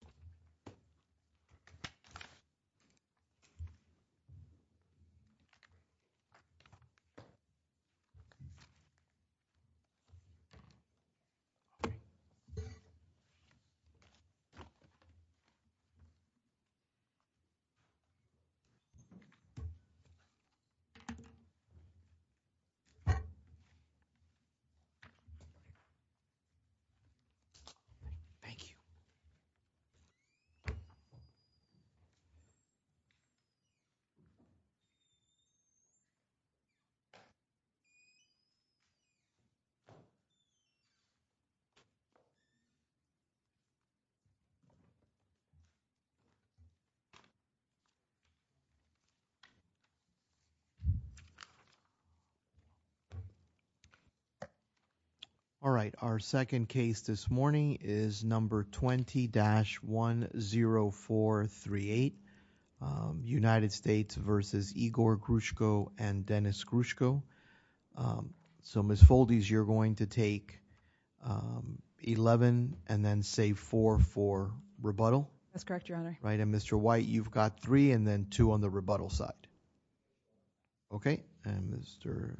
Good morning, everyone. Today, we're going to be looking at the T-10438, United States versus Igor Grushko and Dennis Grushko. So, Ms. Foldes, you're going to take 11 and then save 4 for rebuttal? That's correct, your honor. Right, and Mr. White, you've got 3 and then 2 on the rebuttal side. Okay, and Mr.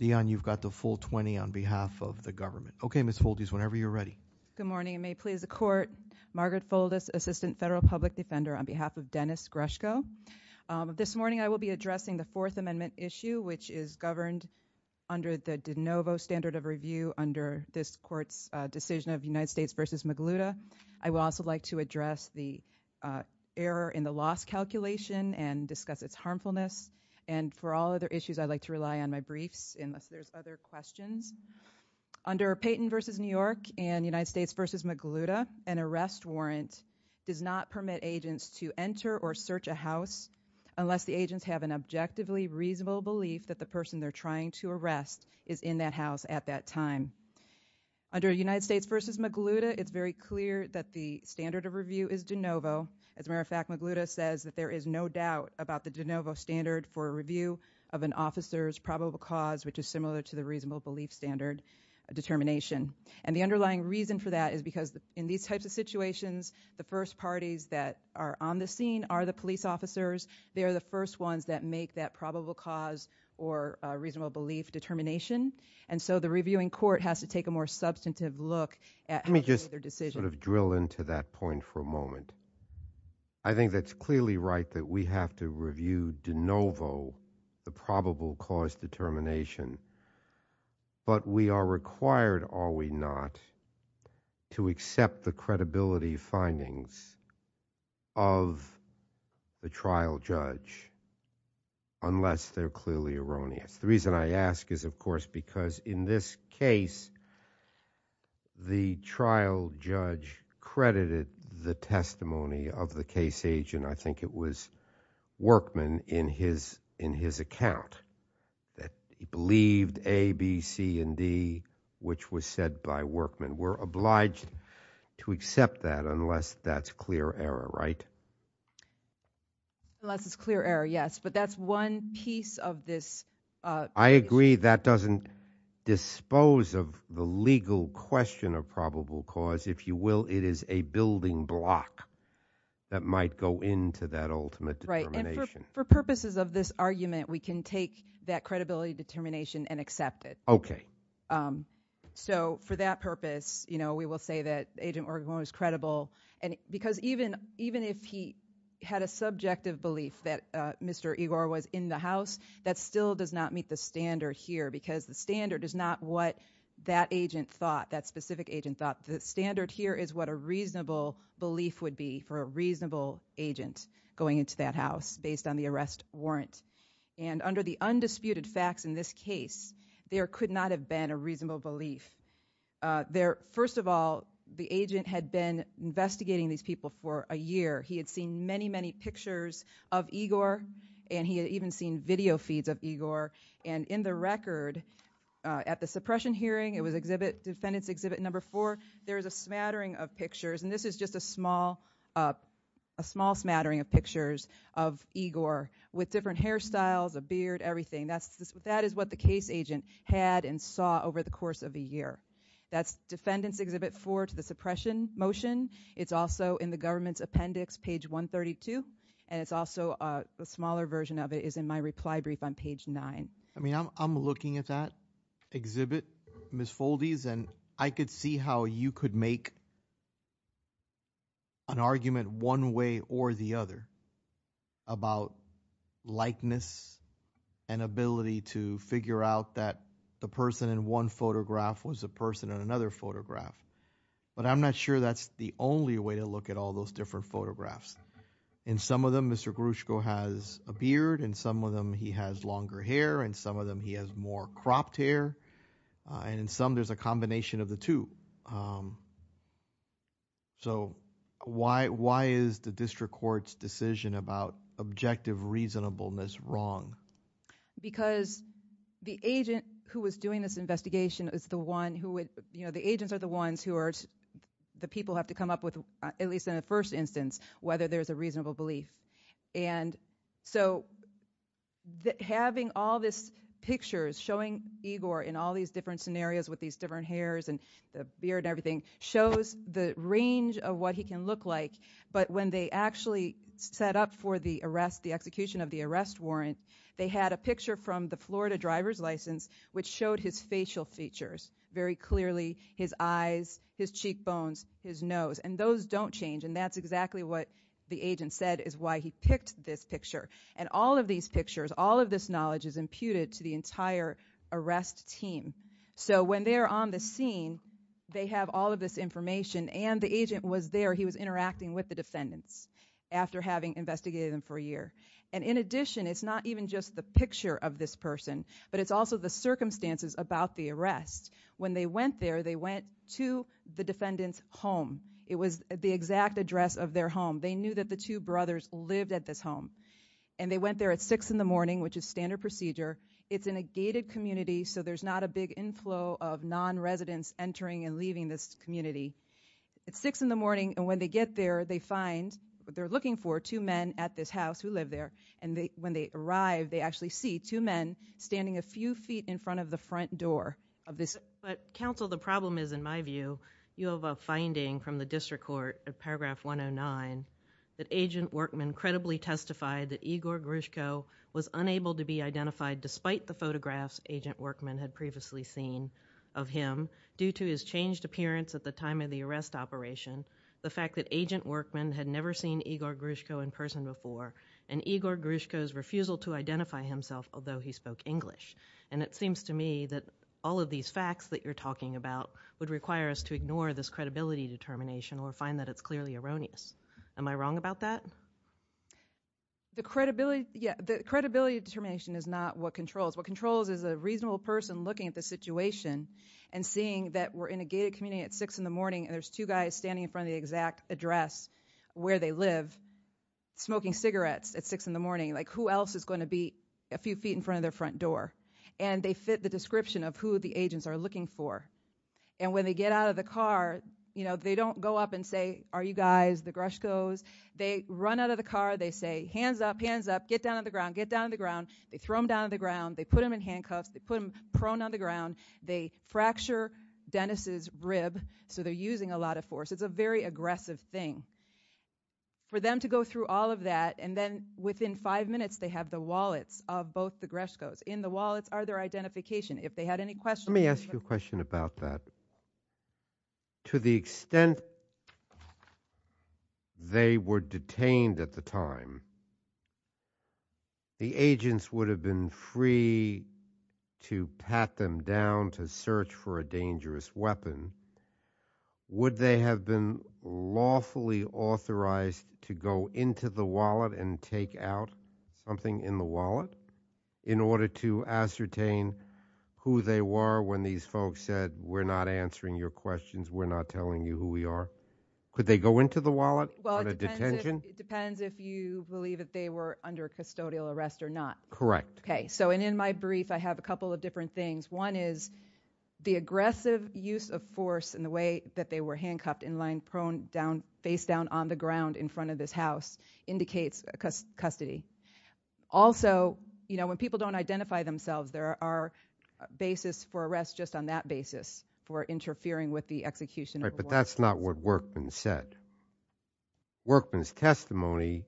Dion, you've got the full 20 on behalf of the government. Okay, Ms. Foldes, whenever you're ready. Good morning, and may it please the court, Margaret Foldes, Assistant Federal Public Defender on behalf of Dennis Grushko. This morning, I will be addressing the Fourth Amendment issue, which is governed under the de novo standard of review under this court's decision of United States versus Magluta. I would also like to address the error in the loss calculation and discuss its harmfulness. And for all other issues, I'd like to rely on my briefs unless there's other questions. Under Payton versus New York and United States versus Magluta, an arrest warrant does not permit agents to enter or search a house unless the agents have an objectively reasonable belief that the person they're trying to arrest is in that house at that time. Under United States versus Magluta, it's very clear that the standard of review is de novo. As a matter of fact, Magluta says that there is no doubt about the de novo standard for a review of an officer's probable cause, which is similar to the reasonable belief standard determination. And the underlying reason for that is because in these types of situations, the first parties that are on the scene are the police officers. They are the first ones that make that probable cause or reasonable belief determination. And so the reviewing court has to take a more substantive look at how to make their decision. Let me just sort of drill into that point for a moment. I think that's clearly right that we have to review de novo the probable cause determination. But we are required, are we not, to accept the credibility findings of the trial judge unless they're clearly erroneous. The reason I ask is, of course, because in this case, I think the trial judge credited the testimony of the case agent, I think it was Workman, in his account, that he believed A, B, C, and D, which was said by Workman. We're obliged to accept that unless that's clear error, right? Unless it's clear error, yes. But that's one piece of this. I agree that doesn't dispose of the legal question of probable cause. If you will, it is a building block that might go into that ultimate determination. Right. And for purposes of this argument, we can take that credibility determination and accept it. Okay. So for that purpose, we will say that Agent Workman was credible. And because even if he had a subjective belief that Mr. Igor was in the house, that still does not meet the standard here. Because the standard is not what that agent thought, that specific agent thought. The standard here is what a reasonable belief would be for a reasonable agent going into that house based on the arrest warrant. And under the undisputed facts in this case, there could not have been a reasonable belief. First of all, the agent had been investigating these people for a year. He had seen many, many pictures of Igor. And he had even seen video feeds of Igor. And in the record at the suppression hearing, it was defendant's exhibit number four, there is a smattering of pictures. And this is just a small smattering of pictures of Igor with different hairstyles, a beard, everything. That is what the case agent had and saw over the course of a year. That's defendant's exhibit four to the suppression motion. It's also in the government's appendix, page 132. And it's also a smaller version of it is in my reply brief on page nine. I mean, I'm looking at that exhibit, Ms. Foldes. And I could see how you could make an argument one way or the other about likeness and ability to figure out that the person in one photograph was a person in another photograph. But I'm not sure that's the only way to look at all those different photographs. In some of them, Mr. Grushko has a beard. In some of them, he has longer hair. In some of them, he has more cropped hair. And in some, there's a combination of the two. So why is the district court's decision about objective reasonableness wrong? Because the agent who was doing this investigation is the one who would, you know, the agents are the ones who are the people have to come up with, at least in the first instance, whether there's a reasonable belief. And so having all this pictures showing Igor in all these different scenarios with these different hairs and the beard and everything shows the range of what he can look like. But when they actually set up for the arrest, the execution of the arrest warrant, they had a picture from the Florida driver's license which showed his facial features very clearly, his eyes, his cheekbones, his nose, and those don't change. And that's exactly what the agent said is why he picked this picture. And all of these pictures, all of this knowledge is imputed to the entire arrest team. So when they're on the scene, they have all of this information and the agent was there, he was interacting with the defendants after having investigated them for a year. And in addition, it's not even just the picture of this person, but it's also the circumstances about the arrest. When they went there, they went to the defendant's home. It was the exact address of their home. They knew that the two brothers lived at this home. And they went there at six in the morning, which is standard procedure. It's in a gated community, so there's not a big inflow of non-residents entering and leaving this community. It's six in the morning, and when they get there, they find, what they're looking for, two men at this house who live there. And when they arrive, they actually see two men standing a few feet in front of the front door of this. But counsel, the problem is, in my view, you have a finding from the district court of paragraph 109 that Agent Workman credibly testified that Igor Grushko was unable to be identified despite the photographs Agent Workman had previously seen of him due to his changed appearance at the time of the arrest operation, the fact that Agent Workman had never seen Igor Grushko in person before, and Igor Grushko's refusal to identify himself, although he spoke English. And it seems to me that all of these facts that you're talking about would require us to ignore this credibility determination or find that it's clearly erroneous. Am I wrong about that? The credibility determination is not what controls. What controls is a reasonable person looking at the situation and seeing that we're in a gated community at 6 in the morning and there's two guys standing in front of the exact address where they live, smoking cigarettes at 6 in the morning. Like, who else is going to be a few feet in front of their front door? And they fit the description of who the agents are looking for. And when they get out of the car, you know, they don't go up and say, are you guys the Grushkos? They run out of the car. They say, hands up, hands up, get down on the ground, get down on the ground. They throw them down on the ground. They put them in handcuffs. They put them prone on the ground. They fracture Dennis's rib. So they're using a lot of force. It's a very aggressive thing. For them to go through all of that and then within five minutes, they have the wallets of both the Grushkos. In the wallets are their identification. If they had any questions. Let me ask you a question about that. To the extent they were detained at the time, the agents would have been free to pat them down, to search for a dangerous weapon. Would they have been lawfully authorized to go into the wallet and take out something in the wallet in order to ascertain who they were when these folks said, we're not answering your questions. We're not telling you who we are. Could they go into the wallet? Well, it depends if you believe that they were under custodial arrest or not. Correct. Okay. So in my brief, I have a couple of different things. One is the aggressive use of force and the way that they were handcuffed in line prone face down on the ground in front of this house indicates custody. Also, when people don't identify themselves, there are basis for arrest just on that basis for interfering with the execution. But that's not what worked and said. Workman's testimony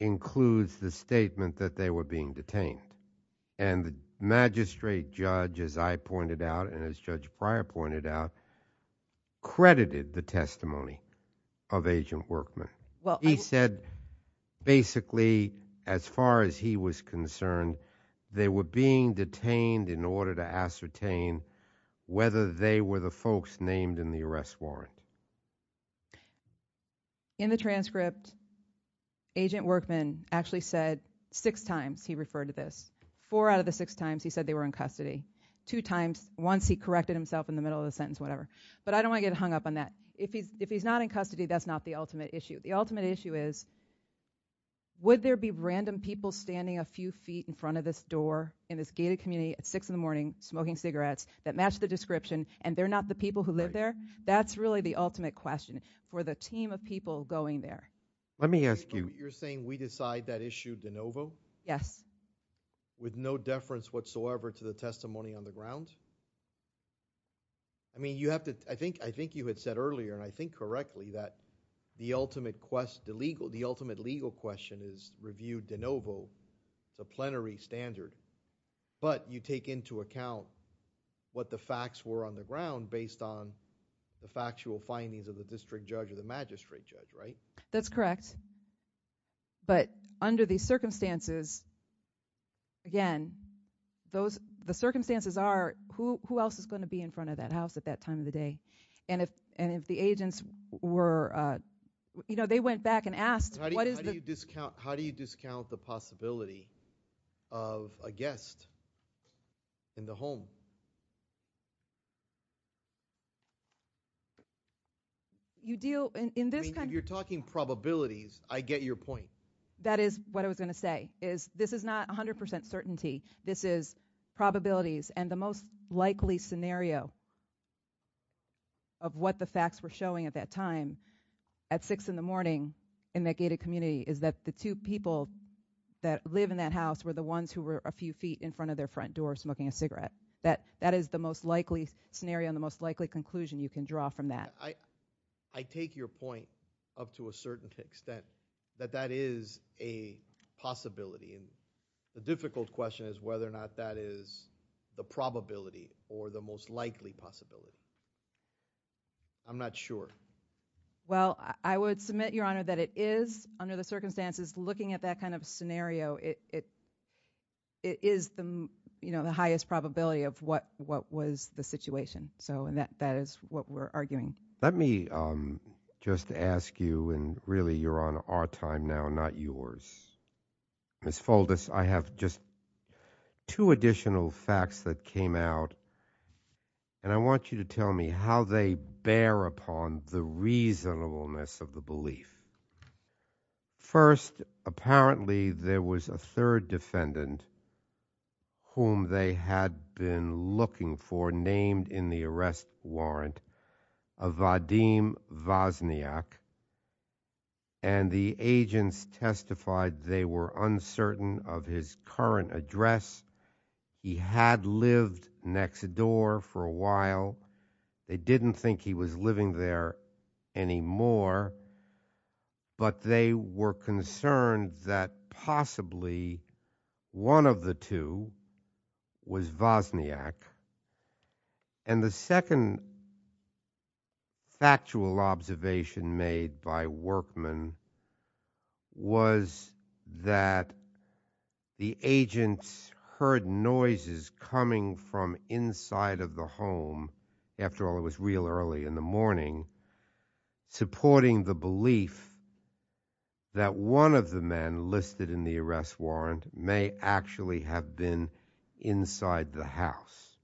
includes the statement that they were being detained and the magistrate judge, as I pointed out, and as Judge Pryor pointed out, credited the testimony of Agent Workman. He said, basically, as far as he was concerned, they were being detained in order to ascertain whether they were the folks named in the arrest warrant. In the transcript, Agent Workman actually said six times he referred to this. Four out of the six times he said they were in custody. Two times, once he corrected himself in the middle of the sentence, whatever. But I don't want to get hung up on that. If he's not in custody, that's not the ultimate issue. The ultimate issue is would there be random people standing a few feet in front of this door in this gated community at six in the morning, smoking cigarettes that match the description and they're not the people who live there? That's really the ultimate question. For the team of people going there. Let me ask you. You're saying we decide that issue de novo? Yes. With no deference whatsoever to the testimony on the ground? I mean, you have to, I think you had said earlier, and I think correctly, that the ultimate legal question is reviewed de novo, it's a plenary standard. But you take into account what the facts were on the ground based on the factual findings of the district judge or the magistrate judge, right? That's correct. But under these circumstances, again, the circumstances are who else is going to be in front of that house at that time of the day? And if the agents were, you know, they went back and asked what is the- How do you discount the possibility of a guest in the home? I mean, if you're talking probabilities, I get your point. That is what I was going to say, is this is not 100% certainty. This is probabilities. And the most likely scenario of what the facts were showing at that time, at six in the morning in that gated community, is that the two people that live in that house were the ones who were a few feet in front of their front door smoking a cigarette. That is the most likely scenario and the most likely scenario. And the most likely conclusion you can draw from that. I take your point up to a certain extent that that is a possibility. And the difficult question is whether or not that is the probability or the most likely possibility. I'm not sure. Well, I would submit, Your Honor, that it is under the circumstances looking at that kind of scenario, it is the, you know, the highest probability of what was the situation. So that is what we're arguing. Let me just ask you, and really, Your Honor, our time now, not yours. Ms. Foldis, I have just two additional facts that came out. And I want you to tell me how they bear upon the reasonableness of the belief. First, apparently there was a third defendant whom they had been looking for named in the arrest warrant of Vadim Vazniak. And the agents testified they were uncertain of his current address. He had lived next door for a while. They didn't think he was living there anymore. But they were concerned that possibly one of the two was Vazniak. And the second factual observation made by Workman was that the agents heard noises coming from inside of the home, after all, it was real early in the morning, supporting the belief that one of the men listed in the arrest warrant may actually have been inside the house.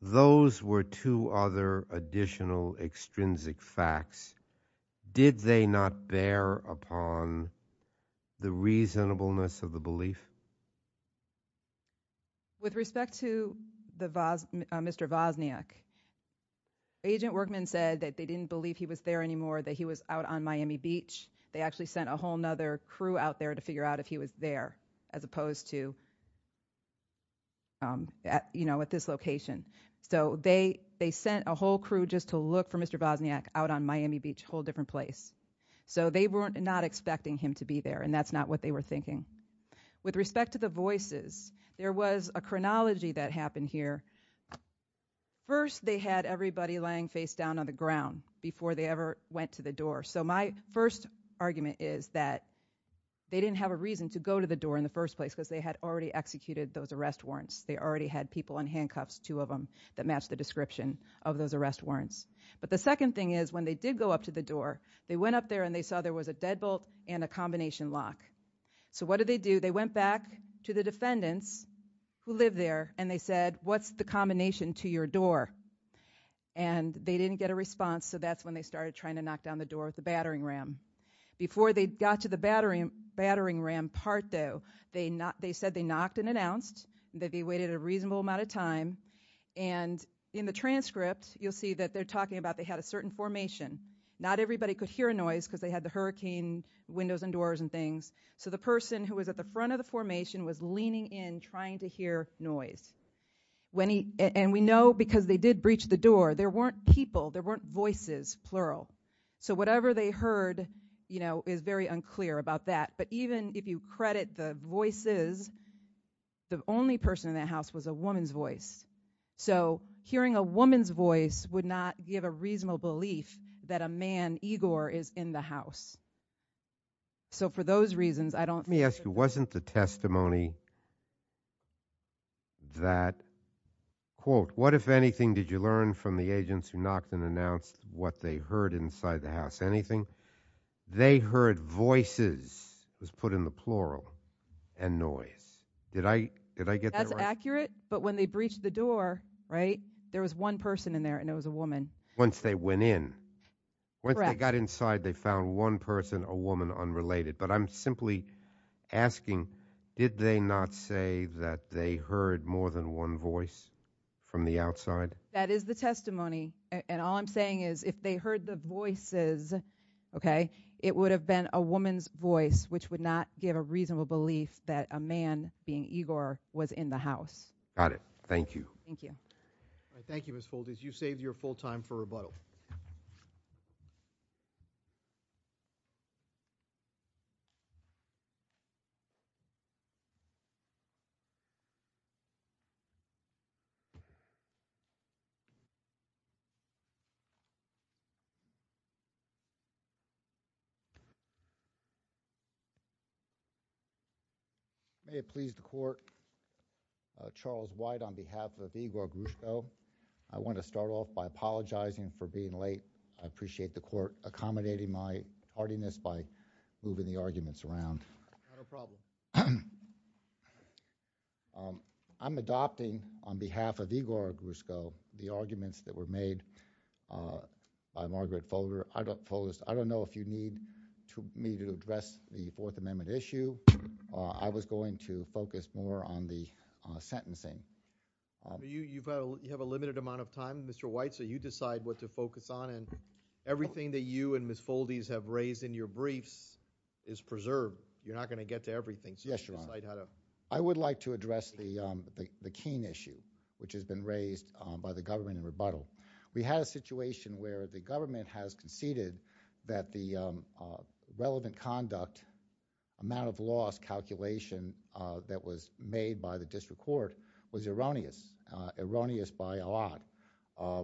Those were two other additional extrinsic facts. Did they not bear upon the reasonableness of the belief? With respect to Mr. Vazniak, Agent Workman said that they didn't believe he was there anymore, that he was out on Miami Beach. They actually sent a whole other crew out there to figure out if he was there, as opposed to, you know, at this location. So they sent a whole crew just to look for Mr. Vazniak out on Miami Beach, a whole different place. So they were not expecting him to be there, and that's not what they were thinking. With respect to the voices, there was a chronology that happened here. First, they had everybody laying face down on the ground before they ever went to the door. So my first argument is that they didn't have a reason to go to the door in the first place because they had already executed those arrest warrants. They already had people in handcuffs, two of them, that matched the description of those arrest warrants. But the second thing is, when they did go up to the door, they went up there and they saw there was a deadbolt and a combination lock. So what did they do? They went back to the defendants who lived there, and they said, what's the combination to your door? And they didn't get a response, so that's when they started trying to knock down the door with the battering ram. Before they got to the battering ram part, though, they said they knocked and announced. They waited a reasonable amount of time. And in the transcript, you'll see that they're talking about they had a certain formation. Not everybody could hear a noise because they had the hurricane windows and doors and things. So the person who was at the front of the formation was leaning in, trying to hear noise. And we know because they did breach the door, there weren't people, there weren't voices, plural. So whatever they heard is very unclear about that. But even if you credit the voices, the only person in that house was a woman's voice. So hearing a woman's voice would not give a reasonable belief that a man, Igor, is in the house. So for those reasons, I don't think- Let me ask you, wasn't the testimony that, quote, what if anything did you learn from the agents who knocked and announced what they heard inside the house, anything? They heard voices, was put in the plural, and noise. Did I get that right? That's accurate. But when they breached the door, right, there was one person in there and it was a woman. Once they went in, once they got inside, they found one person, a woman, unrelated. But I'm simply asking, did they not say that they heard more than one voice from the outside? That is the testimony. And all I'm saying is, if they heard the voices, okay, it would have been a woman's voice, which would not give a reasonable belief that a man, being Igor, was in the house. Got it. Thank you. Thank you. Thank you, Ms. Foldis. You saved your full time for rebuttal. May it please the court, Charles White, on behalf of Igor Grushko, I want to start off by apologizing for being late. I appreciate the court accommodating my hardiness by moving the arguments around. Not a problem. I'm adopting, on behalf of Igor Grushko, the arguments that were made by Margaret Folder. I don't know if you need me to address the Fourth Amendment issue. I was going to focus more on the sentencing. You have a limited amount of time, Mr. White, so you decide what to focus on. And everything that you and Ms. Foldis have raised in your briefs is preserved. You're not going to get to everything. So you decide how to... I would like to address the Keene issue, which has been raised by the government in rebuttal. We had a situation where the government has conceded that the relevant conduct, amount of loss calculation that was made by the district court was erroneous. Erroneous by a lot.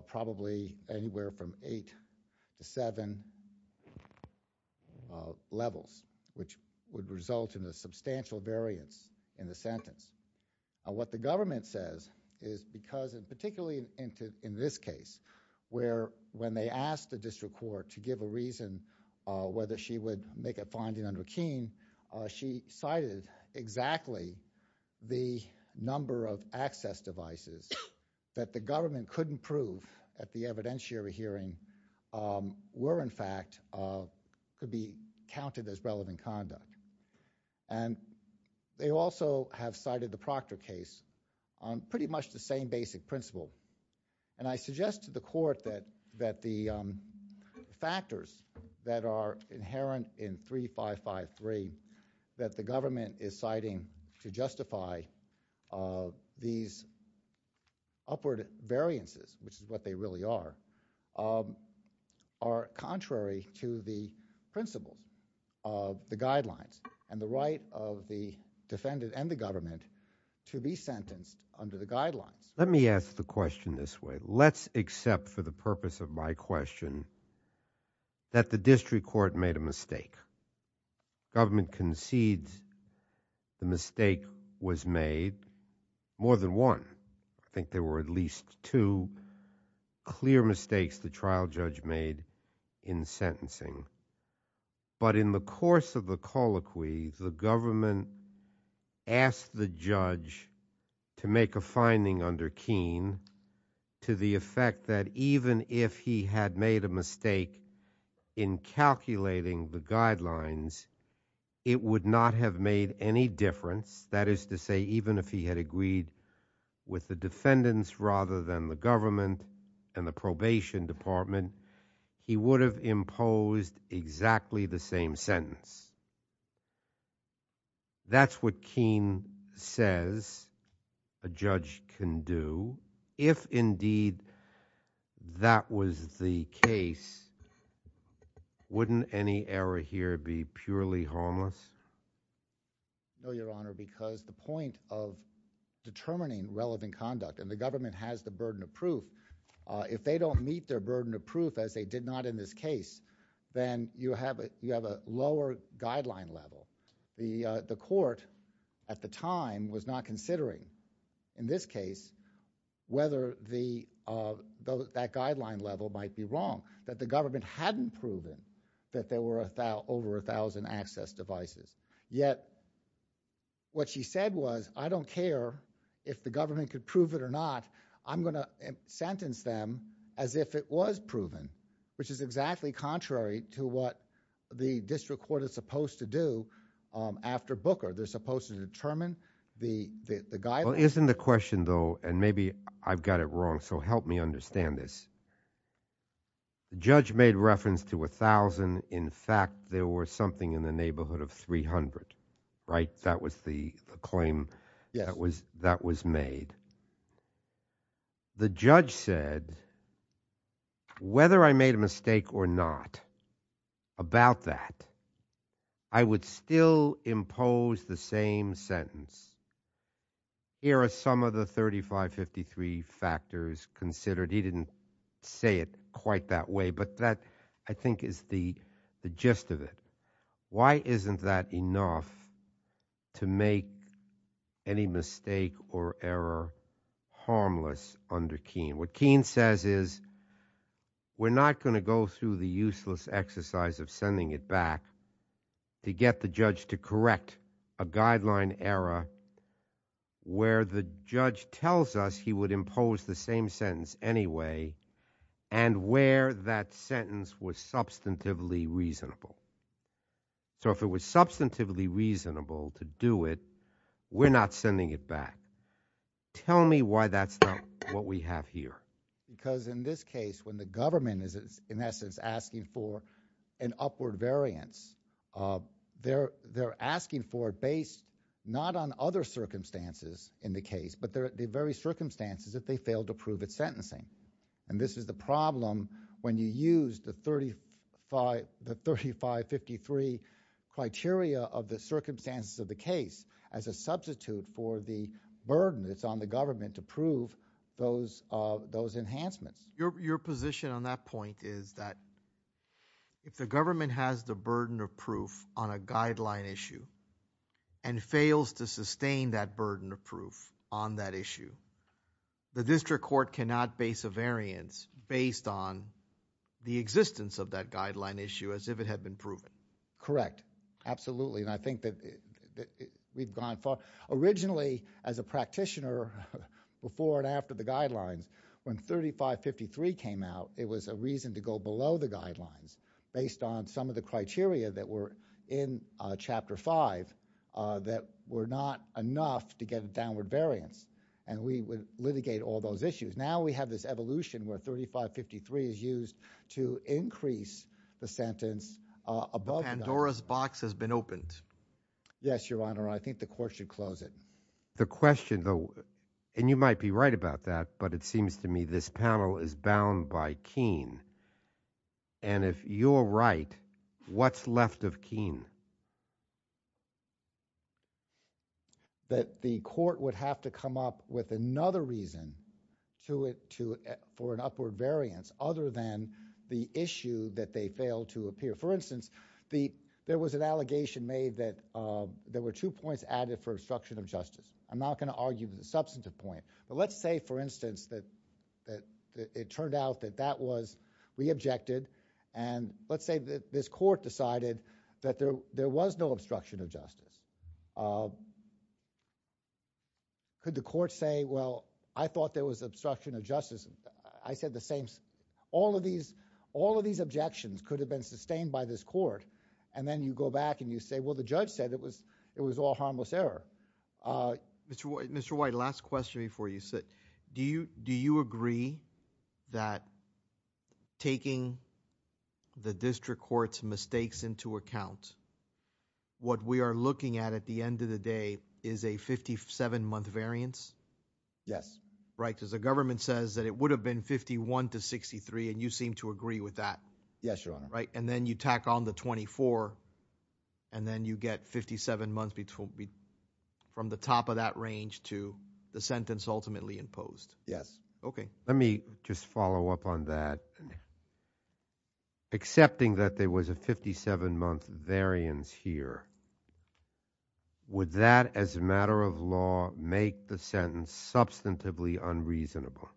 Probably anywhere from eight to seven levels, which would result in a substantial variance in the sentence. What the government says is because, and particularly in this case, where when they asked the district court to give a reason whether she would make a finding under Keene, she cited exactly the number of access devices that the government couldn't prove at the evidentiary hearing were, in fact, could be counted as relevant conduct. And they also have cited the Proctor case on pretty much the same basic principle. And I suggest to the court that the factors that are inherent in 3553 that the government is citing to justify these upward variances, which is what they really are, are contrary to the principles of the guidelines and the right of the defendant and the government to be sentenced under the guidelines. Let me ask the question this way. Let's accept for the purpose of my question that the district court made a mistake. Government concedes the mistake was made more than one. I think there were at least two clear mistakes the trial judge made in sentencing. But in the course of the colloquy, the government asked the judge to make a finding under Keene to the effect that even if he had made a mistake in calculating the guidelines, it would not have made any difference. That is to say, even if he had agreed with the defendants rather than the government and the probation department, he would have imposed exactly the same sentence. That's what Keene says a judge can do. If indeed that was the case, wouldn't any error here be purely harmless? No, Your Honor, because the point and the government has the burden of proof, if they don't meet their burden of proof as they did not in this case, then you have a lower guideline level. The court at the time was not considering in this case whether that guideline level might be wrong, that the government hadn't proven that there were over 1,000 access devices. Yet what she said was, I don't care if the government could prove it or not, I'm going to sentence them as if it was proven, which is exactly contrary to what the district court is supposed to do after Booker. They're supposed to determine the guideline. Well, isn't the question though, and maybe I've got it wrong, so help me understand this. The judge made reference to 1,000. In fact, there were something in the neighborhood of 300, right? That was the claim that was made. The judge said, whether I made a mistake or not about that, I would still impose the same sentence. Here are some of the 3553 factors considered. He didn't say it quite that way, but that I think is the gist of it. Why isn't that enough to make any mistake or error harmless under Keene? What Keene says is, we're not going to go through the useless exercise of sending it back to get the judge to correct a guideline error where the judge tells us he would impose the same sentence anyway, and where that sentence was substantively reasonable. So if it was substantively reasonable to do it, we're not sending it back. Tell me why that's not what we have here. Because in this case, when the government is in essence asking for an upward variance, they're asking for it based not on other circumstances in the case, but the very circumstances that they failed to prove its sentencing. And this is the problem when you use the 3553 criteria of the circumstances of the case as a substitute for the burden that's on the government to prove those enhancements. Your position on that point is that if the government has the burden of proof on a guideline issue and fails to sustain that burden of proof on that issue, the district court cannot base a variance based on the existence of that guideline issue as if it had been proven. Correct. Absolutely. I think that we've gone far. Originally as a practitioner, before and after the guidelines, when 3553 came out, it was a reason to go below the guidelines based on some of the criteria that were in chapter five that were not enough to get a downward variance. And we would litigate all those issues. Now we have this evolution where 3553 is used to increase the sentence above. Pandora's box has been opened. Yes, Your Honor. I think the court should close it. The question though, and you might be right about that, but it seems to me this panel is bound by Keene. And if you're right, what's left of Keene? That the court would have to come up with another reason for an upward variance other than the issue that they failed to appear. For instance, there was an allegation made that there were two points added for obstruction of justice. I'm not going to argue with the substantive point, but let's say for instance that it turned out that that was re-objected. And let's say that this court decided that there was no obstruction of justice. Could the court say, well, I thought there was obstruction of justice. I said the same. All of these objections could have been sustained by this court. And then you go back and you say, well, the judge said it was all harmless error. Mr. White, last question before you sit. Do you agree that taking the district court's mistakes into account, what we are looking at at the end of the day is a 57-month variance? Yes. Right. Because the government says that it would have been 51 to 63 and you seem to agree with that. Yes, Your Honor. Right. And then you tack on the 24 and then you get 57 months from the top of that range to the sentence ultimately imposed. Yes. Okay. Let me just follow up on that. Accepting that there was a 57-month variance here, would that as a matter of law make the sentence substantively unreasonable?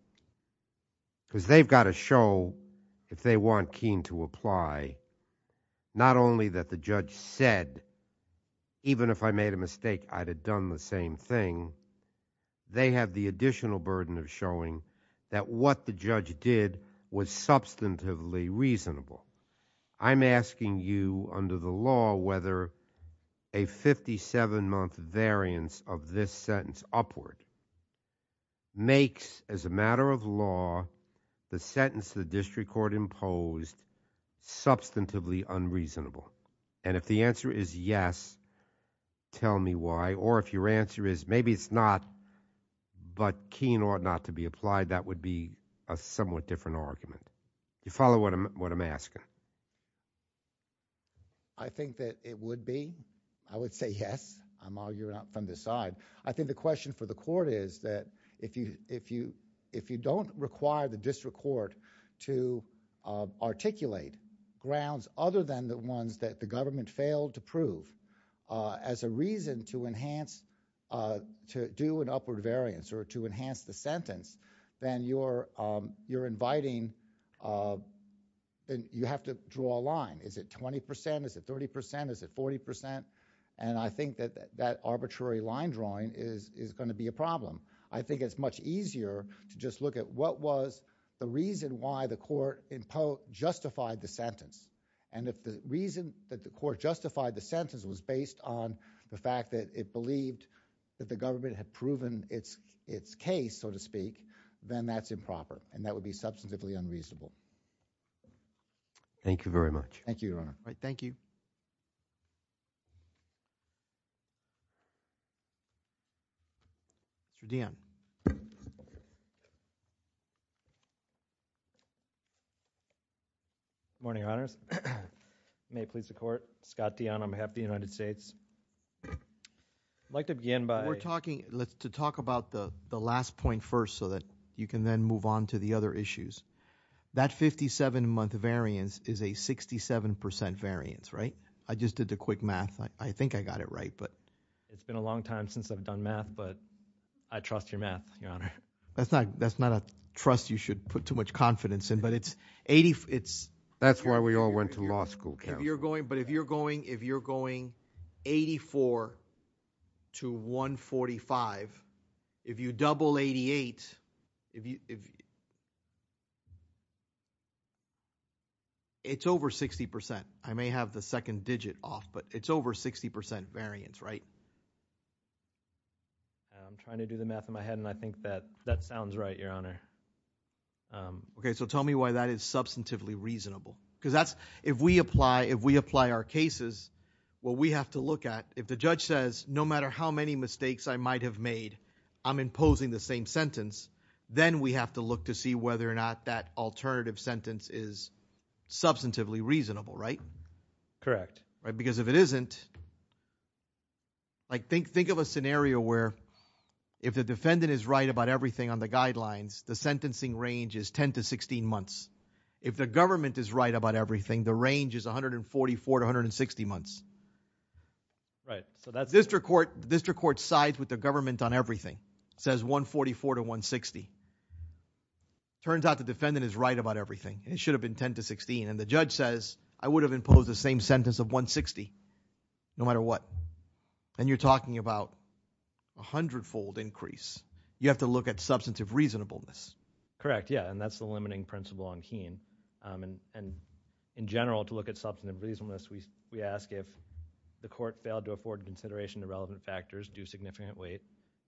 Because they've got to show if they want Keene to apply, not only that the judge said, even if I made a mistake, I'd have done the same thing. They have the additional burden of showing that what the judge did was substantively reasonable. I'm asking you under the law whether a 57-month variance of this sentence upward makes as a matter of law the sentence the district court imposed substantively unreasonable. And if the answer is yes, tell me why. Or if your answer is maybe it's not, but Keene ought not to be applied, that would be a somewhat different argument. Do you follow what I'm asking? I think that it would be. I would say yes. I'm arguing from this side. I think the question for the court is that if you don't require the district court to articulate grounds other than the ones that the government failed to prove as a reason to enhance, to do an upward variance or to enhance the sentence, then you're inviting, then you have to draw a line. Is it 20%? Is it 30%? Is it 40%? And I think that that arbitrary line drawing is going to be a problem. I think it's much easier to just look at what was the reason why the court justified the sentence. And if the reason that the court justified the sentence was based on the fact that it believed that the government had proven its case, so to speak, then that's improper. And that would be substantively unreasonable. Thank you very much. Thank you, Your Honor. Thank you. Mr. Dionne. Good morning, Your Honors. May it please the court. Scott Dionne on behalf of the United States. I'd like to begin by- We're talking, let's to talk about the last point first so that you can then move on to the other issues. That 57 month variance is a 67% variance, right? I just did a quick math. I think I got it right, but- It's been a long time since I've done math, but I trust your math, Your Honor. That's not a trust you should put too much confidence in, but it's 80, it's- That's why we all went to law school. If you're going, but if you're going, if you're going 84 to 145, if you double 88, if you- It's over 60%. I may have the second digit off, but it's over 60% variance, right? I'm trying to do the math in my head, and I think that that sounds right, Your Honor. Okay, so tell me why that is substantively reasonable. Because that's, if we apply, if we apply our cases, what we have to look at, if the judge says, no matter how many mistakes I might have made, I'm imposing the same sentence, then we have to look to see whether or not that alternative sentence is substantively reasonable, right? Correct. Right, because if it isn't, like think of a scenario where if the defendant is right about everything on the guidelines, the sentencing range is 10 to 16 months. If the government is right about everything, the range is 144 to 160 months. Right. So that's district court, district court sides with the government on everything, says 144 to 160. Turns out the defendant is right about everything, and it should have been 10 to 16. And the judge says, I would have imposed the same sentence of 160, no matter what. And you're talking about a hundredfold increase. You have to look at substantive reasonableness. Correct, yeah. And that's the limiting principle on Keene. And in general, to look at substantive reasonableness, we ask if the court failed to afford consideration to relevant factors, do significant weight.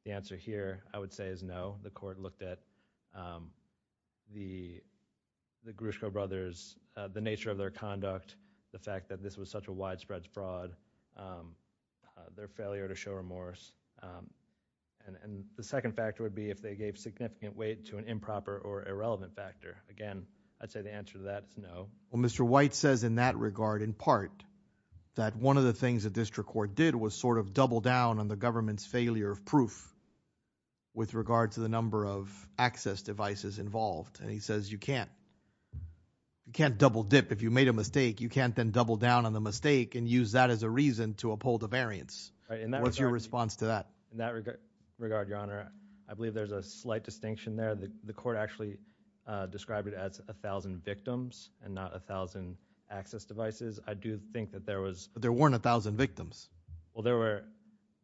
The answer here I would say is no. The court looked at the Gruszko brothers, the nature of their conduct, the fact that this was such a widespread fraud, their failure to show remorse. And the second factor would be if they gave significant weight to an improper or irrelevant factor. Again, I'd say the answer to that is no. Well, Mr. White says in that regard, in part, that one of the things that district court did was sort of double down on the government's failure of proof with regard to the number of access devices involved. And he says you can't double dip if you made a mistake. You can't then double down on the mistake and use that as a reason to uphold a variance. What's your response to that? In that regard, Your Honor, I believe there's a slight distinction there. The court actually described it as 1,000 victims and not 1,000 access devices. I do think that there was. But there weren't 1,000 victims. Well, there were.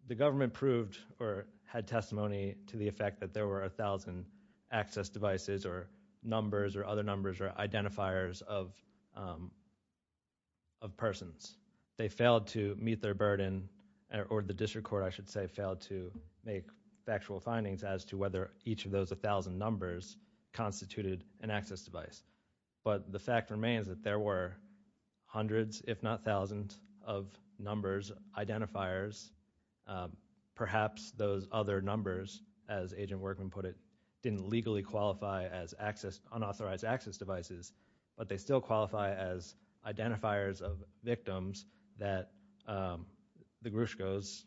The government proved or had testimony to the effect that there were 1,000 access devices or numbers or other numbers or identifiers of persons. They failed to meet their burden or the district court, I should say, failed to make factual findings as to whether each of those 1,000 numbers constituted an access device. But the fact remains that there were hundreds, if not 1,000 of numbers, identifiers, perhaps those other numbers, as Agent Workman put it, didn't legally qualify as unauthorized access devices, but they still qualify as identifiers of victims that the Grushkos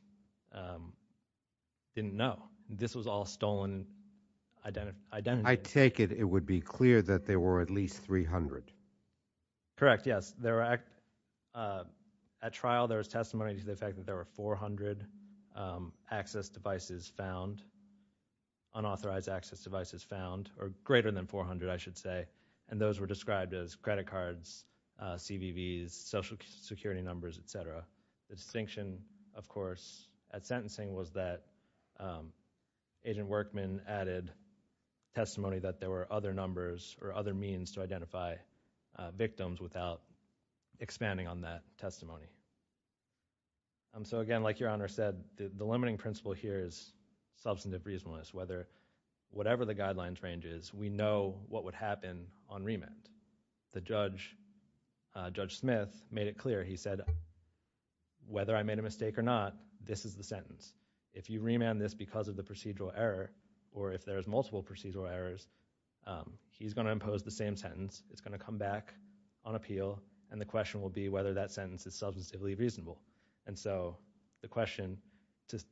didn't know. This was all stolen identity. I take it it would be clear that there were at least 300. Correct, yes. At trial, there was testimony that there were 400 access devices found, unauthorized access devices found, or greater than 400, I should say, and those were described as credit cards, CVVs, social security numbers, etc. The distinction, of course, at sentencing was that Agent Workman added testimony that there were other numbers or other means to identify victims without expanding on that testimony. So again, like Your Honor said, the limiting principle here is substantive reasonableness. Whatever the guidelines range is, we know what would happen on remand. The judge, Judge Smith, made it clear. He said, whether I made a mistake or not, this is the sentence. If you remand this because of the procedural error or if there's multiple procedural errors, he's going to impose the same sentence. It's going to come back on appeal and the question will be whether that sentence is substantively reasonable. And so the question,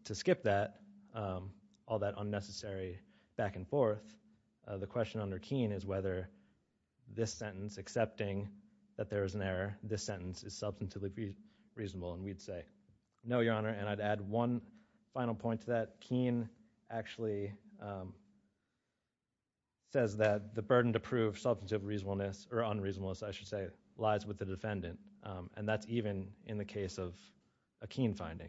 to skip that, all that unnecessary back and forth, the question under Keen is whether this sentence, accepting that there is an error, this sentence is substantively reasonable and we'd say, no, Your Honor. And I'd add one final point to that. Keen actually says that the burden to prove substantive reasonableness, or unreasonableness, I should say, lies with the defendant. And that's even in the case of a Keen finding.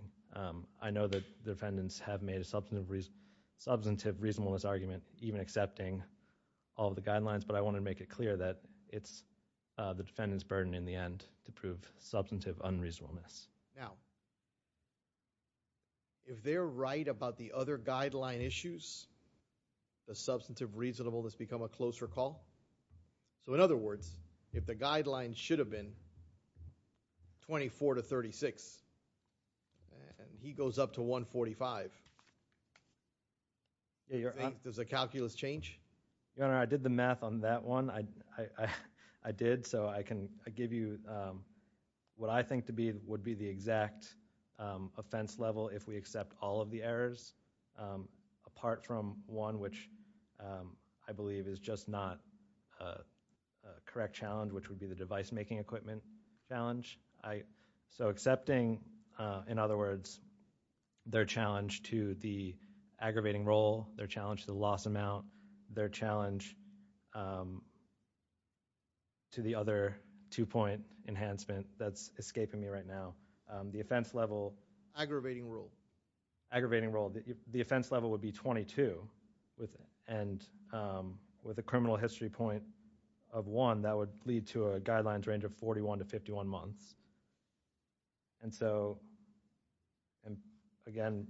I know that the defendants have made a substantive reasonableness argument, even accepting all the guidelines, but I want to make it clear that it's the defendant's burden in the end to prove substantive unreasonableness. Now, if they're right about the other guideline issues, the substantive reasonableness become a closer call. So in other words, if the guidelines should have been 24 to 36 and he goes up to 145, does the calculus change? Your Honor, I did the math on that one. I did. So I can give you what I think would be the exact offense level if we accept all of the errors, apart from one, which I believe is just not a correct challenge, which would be the device making equipment. I so accepting, in other words, their challenge to the aggravating role, their challenge to the loss amount, their challenge to the other two point enhancement that's escaping me right now, the offense level, aggravating role, the offense level would be 22 and with a criminal history point of one that would lead to a guidelines range of 41 to 51 months. And so, and again,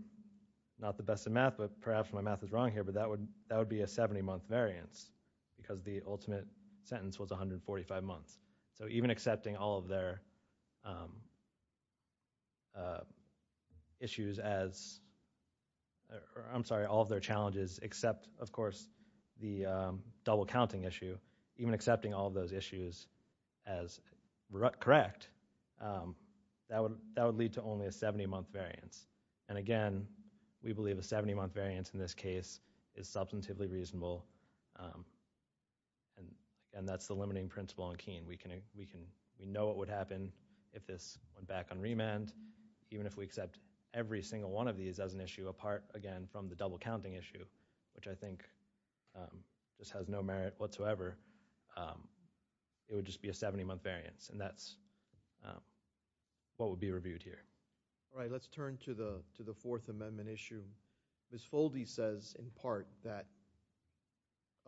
not the best of math, but perhaps my math is wrong here, but that would be a 70 month variance because the ultimate sentence was 145 months. So even accepting all of their issues as, I'm sorry, all of their challenges, except of course, the double counting issue, even accepting all of those issues as correct, that would lead to only a 70 month variance. And again, we believe a 70 month variance in this case is substantively reasonable and that's the limiting principle on Keene. We know what would happen if this went back on remand, even if we accept every single one of these as an issue apart again from the double counting issue, which I think just has no merit whatsoever. It would just be a 70 month variance and that's what would be reviewed here. All right. Let's turn to the fourth amendment issue. Ms. Foldy says in part that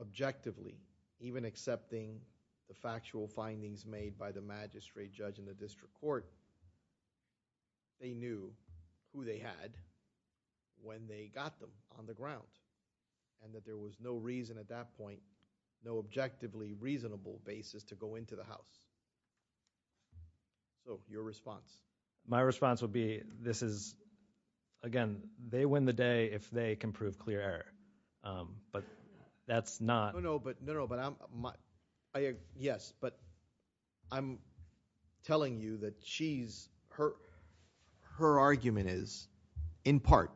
objectively, even accepting the factual findings made by the magistrate judge in the district court, they knew who they had when they got them on the ground and that there was no reason at that point, no objectively reasonable basis to go into the house. So your response? My response would be this is, again, they win the day if they can prove clear error, but that's not. No, no, but no, no, but I'm, yes, but I'm telling you that she's, her argument is in part,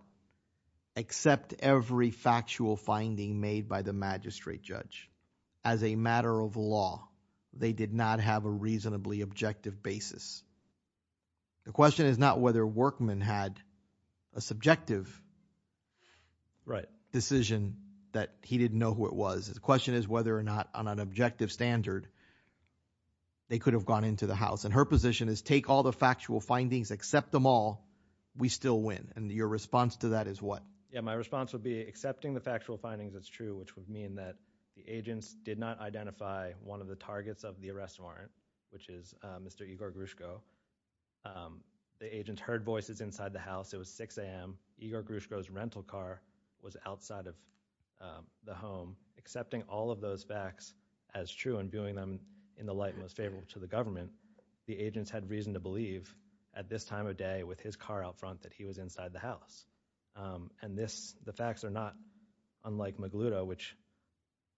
except every factual finding made by the magistrate judge as a matter of law, they did not have a reasonably objective basis. The question is not whether Workman had a subjective. Right decision that he didn't know who it was. The question is whether or not on an objective standard, they could have gone into the house and her position is take all the factual findings, accept them all. We still win. And your response to that is what? Yeah, my response would be accepting the factual findings which would mean that the agents did not identify one of the targets of the arrest warrant, which is Mr. Igor Grushko. The agent heard voices inside the house. It was 6 a.m. Igor Grushko's rental car was outside of the home. Accepting all of those facts as true and doing them in the light most favorable to the government. The agents had reason to believe at this time of day with his car out front that he was inside the house. And this, the facts are not unlike Magluta, which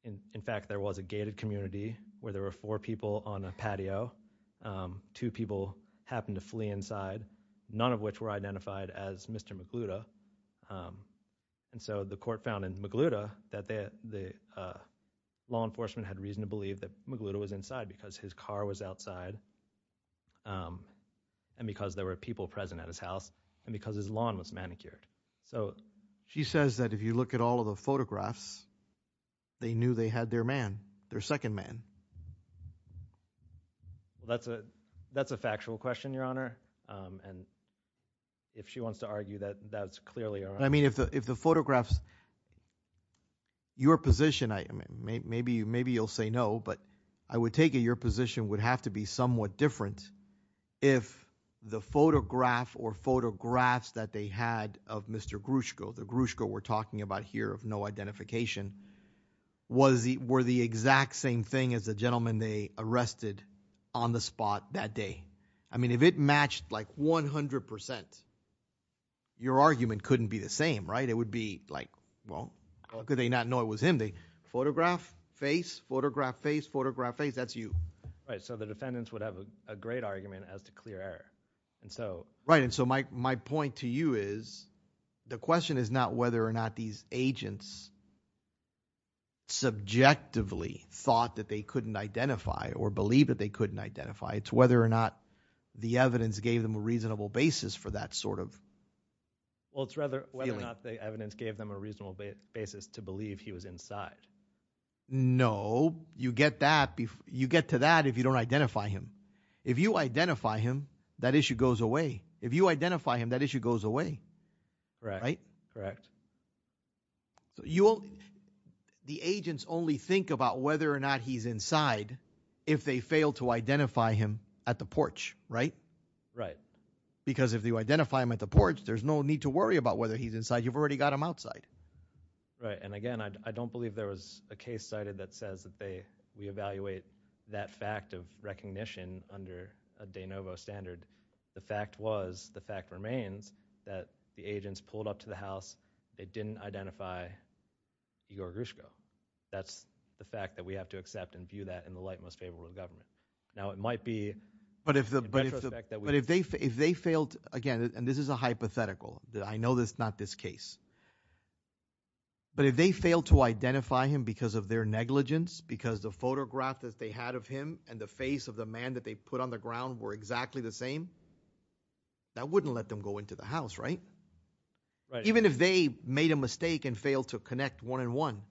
in fact, there was a gated community where there were four people on a patio. Two people happened to flee inside, none of which were identified as Mr. Magluta. And so the court found in Magluta that the law enforcement had reason to believe that Magluta was inside because his car was outside and because there were people present at his house and because his lawn was manicured. So she says that if you look at all of the photographs, they knew they had their man, their second man. That's a, that's a factual question, Your Honor. And if she wants to argue that that's clearly all right. I mean, if the, if the photographs, your position, I mean, maybe, maybe you'll say no, but I would take it your position would have to be somewhat different if the photograph or photographs that they had of Mr. Grushko, the Grushko we're talking about here of no identification, were the exact same thing as the gentleman they arrested on the spot that day. I mean, if it matched like 100%, your argument couldn't be the same, right? It would be like, well, how could they not know it was him? They photograph, face, photograph, face, photograph, face, that's you. Right, so the defendants would have a great argument as to clear error. And so. Right, and so my point to you is the question is not whether or not these agents subjectively thought that they couldn't identify or believe that they couldn't identify. It's whether or not the evidence gave them a reasonable basis for that sort of. Well, it's rather whether or not the evidence gave them a reasonable basis to believe he was inside. No, you get that, you get to that if you don't identify him. If you identify him, that issue goes away. If you identify him, that issue goes away. Correct, correct. The agents only think about whether or not he's inside if they fail to identify him at the porch, right? Right. Because if you identify him at the porch, there's no need to worry about whether he's inside. You've already got him outside. Right, and again, I don't believe there was a case cited that says we evaluate that fact of recognition under a de novo standard. The fact was, the fact remains that the agents pulled up to the house, they didn't identify Igor Grishko. That's the fact that we have to accept and view that in the light most favorable of government. Now, it might be. But if they failed, again, and this is a hypothetical, I know that's not this case. But if they failed to identify him because of their negligence, because the photograph that they had of him and the face of the man that they put on the ground were exactly the same, that wouldn't let them go into the house, right? Right. Even if they made a mistake and failed to connect one and one.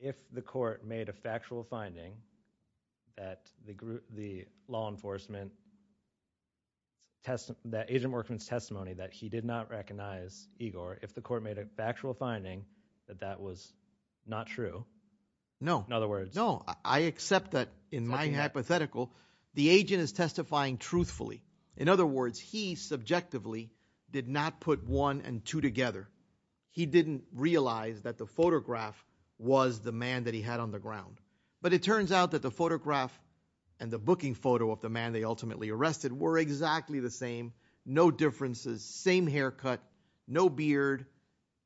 If the court made a factual finding that the group, the law enforcement test, that agent workman's testimony that he did not recognize Igor, if the court made a factual finding that that was not true. No. In other words. No, I accept that in my hypothetical, the agent is testifying truthfully. In other words, he subjectively did not put one and two together. He didn't realize that the photograph was the man that he had on the ground. But it turns out that the photograph and the booking photo of the man they ultimately arrested were exactly the same. No differences, same haircut, no beard,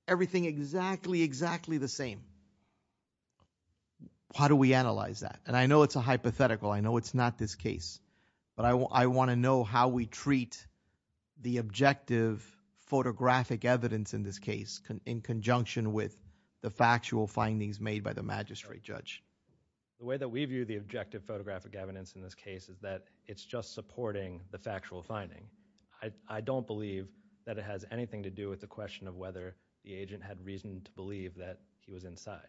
everything exactly, exactly the same. How do we analyze that? And I know it's a hypothetical. I know it's not this case. But I want to know how we treat the objective photographic evidence in this case in conjunction with the factual findings made by the magistrate judge. The way that we view the objective photographic evidence in this case is that it's just supporting the factual finding. I don't believe that it has anything to do with the question of whether the agent had reason to believe that he was inside.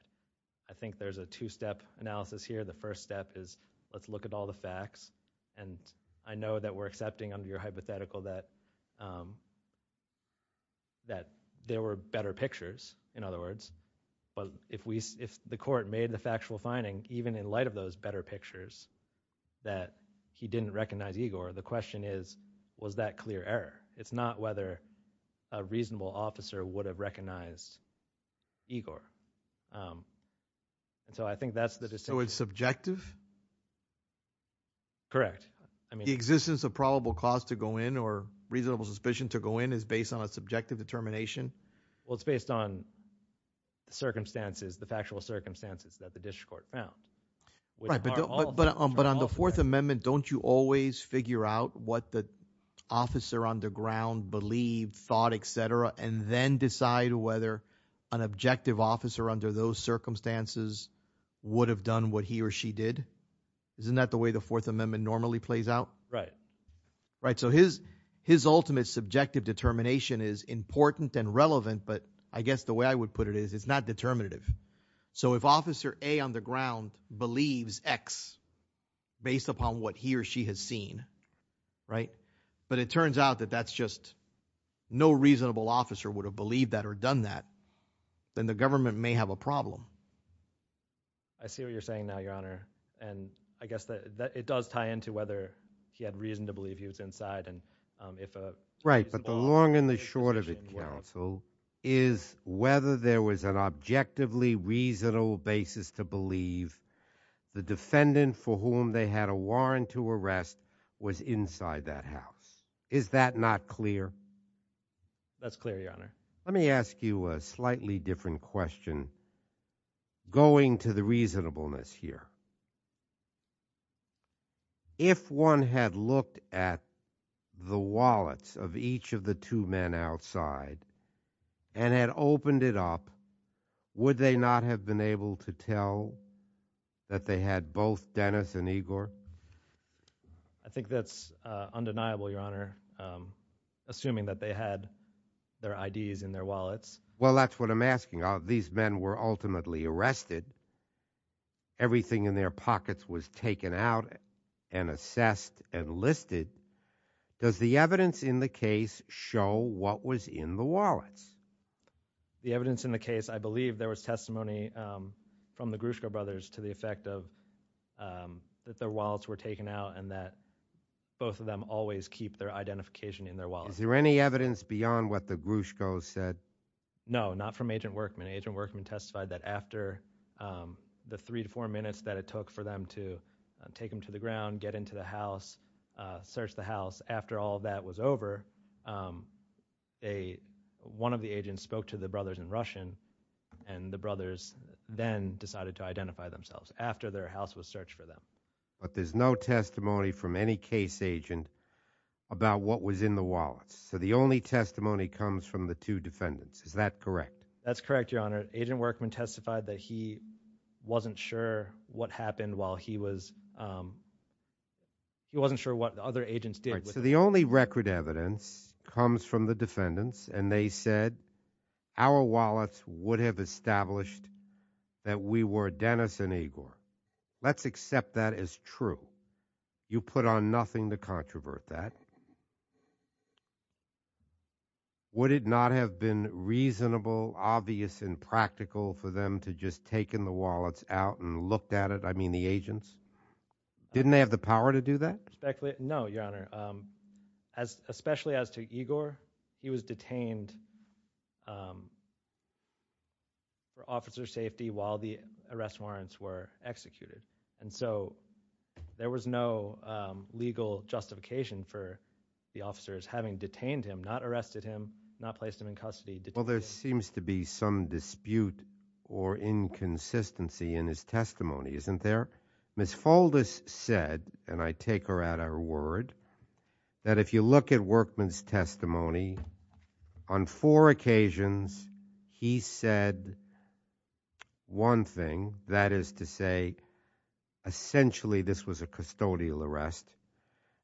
I think there's a two-step analysis here. The first step is let's look at all the facts. And I know that we're accepting under your hypothetical that there were better pictures, in other words. But if the court made the factual finding, even in light of those better pictures, that he didn't recognize Igor, the question is, was that clear error? It's not whether a reasonable officer would have recognized Igor. And so I think that's the distinction. So it's subjective? Correct. I mean, the existence of probable cause to go in or reasonable suspicion to go in is based on a subjective determination? Well, it's based on the circumstances, the factual circumstances that the district court found. Right, but on the Fourth Amendment, don't you always figure out what the officer on the ground believed, thought, et cetera, and then decide whether an objective officer under those circumstances would have done what he or she did? Isn't that the way the Fourth Amendment normally plays out? Right. Right, so his ultimate subjective determination is important and relevant, but I guess the way I would put it is it's not determinative. So if Officer A on the ground believes X based upon what he or she has seen, right, but it turns out that that's just no reasonable officer would have believed that or done that, then the government may have a problem. I see what you're saying now, Your Honor, and I guess that it does tie into whether he had reason to believe he was inside. Right, but the long and the short of it, counsel, is whether there was an objectively reasonable basis to believe the defendant for whom they had a warrant to arrest was inside that house. Is that not clear? That's clear, Your Honor. Let me ask you a slightly different question. Going to the reasonableness here, if one had looked at the wallets of each of the two men outside and had opened it up, would they not have been able to tell that they had both Dennis and Igor? I think that's undeniable, Your Honor, assuming that they had their IDs in their wallets. Well, that's what I'm asking. These men were ultimately arrested. Everything in their pockets was taken out and assessed and listed. Does the evidence in the case show what was in the wallets? The evidence in the case, I believe there was testimony from the Gruszko brothers to the effect of that their wallets were taken out and that both of them always keep their identification in their wallet. Is there any evidence beyond what the Gruszko said? No, not from Agent Workman. Agent Workman testified that after the three to four minutes that it took for them to take them to the ground, get into the house, search the house, after all that was over, one of the agents spoke to the brothers in Russian and the brothers then decided to identify themselves after their house was searched for them. But there's no testimony from any case agent about what was in the wallets. So the only testimony comes from the two defendants. Is that correct? That's correct, Your Honor. Agent Workman testified that he wasn't sure what happened while he was, he wasn't sure what the other agents did. So the only record evidence comes from the defendants and they said our wallets would have established that we were Dennis and Igor. Let's accept that as true. You put on nothing to controvert that. Would it not have been reasonable, obvious and practical for them to just taken the wallets out and looked at it, I mean the agents? Didn't they have the power to do that? No, Your Honor. Especially as to Igor, he was detained for officer safety while the arrest warrants were executed. And so there was no legal justification for the officers having detained him, not arrested him, not placed him in custody. Well, there seems to be some dispute or inconsistency in his testimony, isn't there? Ms. Foldis said, and I take her at her word, that if you look at Workman's testimony, on four occasions, he said one thing, that is to say, essentially this was a custodial arrest.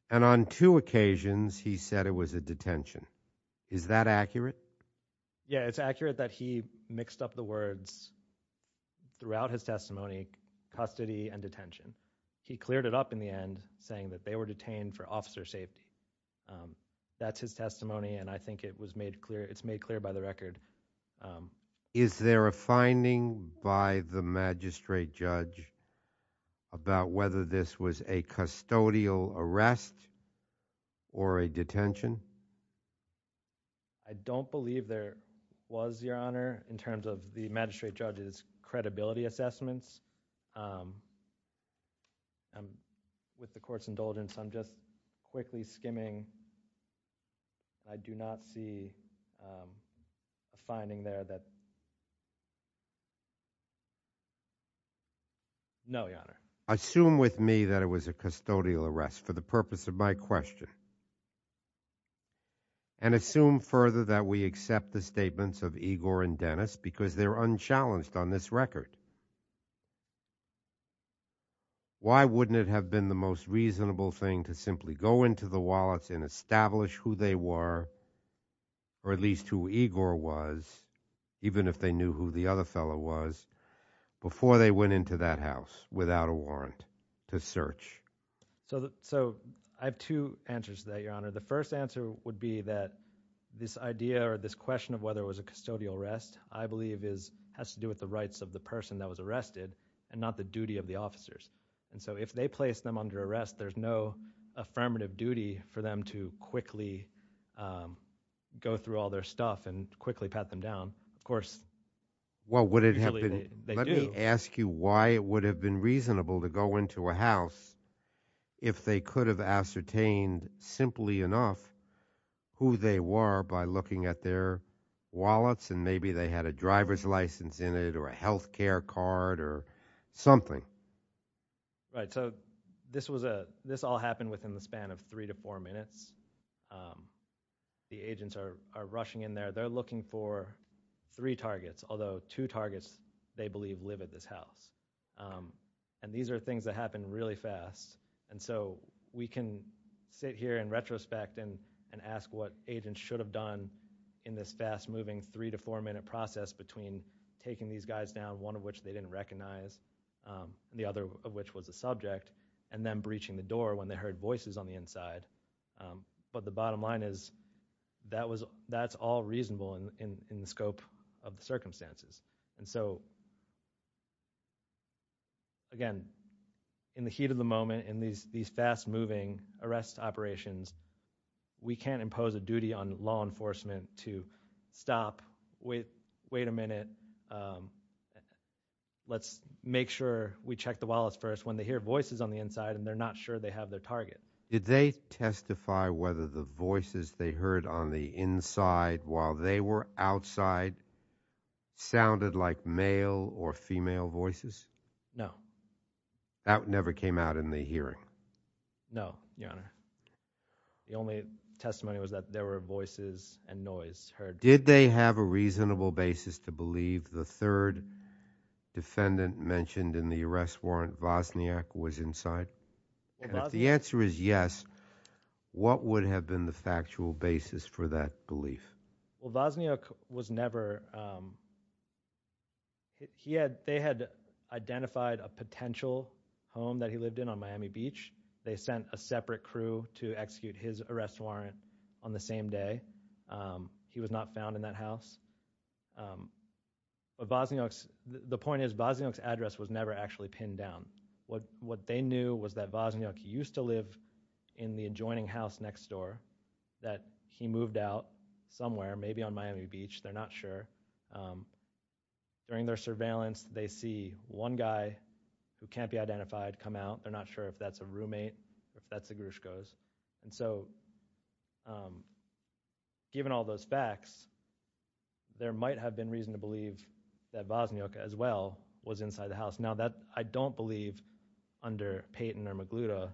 And on two occasions, he said it was a detention. Is that accurate? Yeah, it's accurate that he mixed up the words throughout his testimony, custody and detention. He cleared it up in the end saying that they were detained for officer safety. That's his testimony. And I think it was made clear, it's made clear by the record. Is there a finding by the magistrate judge about whether this was a custodial arrest or a detention? I don't believe there was, Your Honor, in terms of the magistrate judge's credibility assessments. And with the court's indulgence, I'm just quickly skimming. I do not see a finding there that No, Your Honor. Assume with me that it was a custodial arrest for the purpose of my question. And assume further that we accept the statements of Igor and Dennis because they're unchallenged on this record. Why wouldn't it have been the most reasonable thing to simply go into the wallets and establish who they were, or at least who Igor was, even if they knew who the other fellow was, before they went into that house without a warrant to search? So I have two answers to that, Your Honor. The first answer would be that this idea or this question of whether it was a custodial arrest, I believe has to do with the rights of the person that was arrested and not the duty of the officers. And so if they place them under arrest, there's no affirmative duty for them to quickly go through all their stuff and quickly pat them down. Of course, well, would it have been? Let me ask you why it would have been reasonable to go into a house if they could have ascertained simply enough who they were by looking at their wallets and maybe they had a driver's license in it or a health care card or something. Right, so this all happened within the span of three to four minutes. The agents are rushing in there. They're looking for three targets, although two targets, they believe, live at this house. And these are things that happen really fast. And so we can sit here in retrospect and ask what agents should have done in this fast-moving three to four minute process between taking these guys down, one of which they didn't recognize, the other of which was a subject, and then breaching the door when they heard voices on the inside. But the bottom line is that's all reasonable in the scope of the circumstances. And so, again, in the heat of the moment in these fast-moving arrest operations, we can't impose a duty on law enforcement to stop, wait a minute, let's make sure we check the wallets first when they hear voices on the inside and they're not sure they have their target. Did they testify whether the voices they heard on the inside while they were outside sounded like male or female voices? No. That never came out in the hearing? No, Your Honor. The only testimony was that there were voices and noise heard. Did they have a reasonable basis to believe the third defendant mentioned in the arrest warrant, Wozniak, was inside? And if the answer is yes, what would have been the factual basis for that belief? Well, Wozniak was never, they had identified a potential home that he lived in on Miami Beach. They sent a separate crew to execute his arrest warrant on the same day. He was not found in that house. But Wozniak's, the point is Wozniak's address was never actually pinned down. What they knew was that Wozniak used to live in the adjoining house next door, that he moved out somewhere, maybe on Miami Beach, they're not sure. During their surveillance, they see one guy who can't be identified come out. They're not sure if that's a roommate, if that's the Grushkos. And so, given all those facts, there might have been reason to believe that Wozniak, as well, was inside the house. I don't believe, under Payton or Magluta,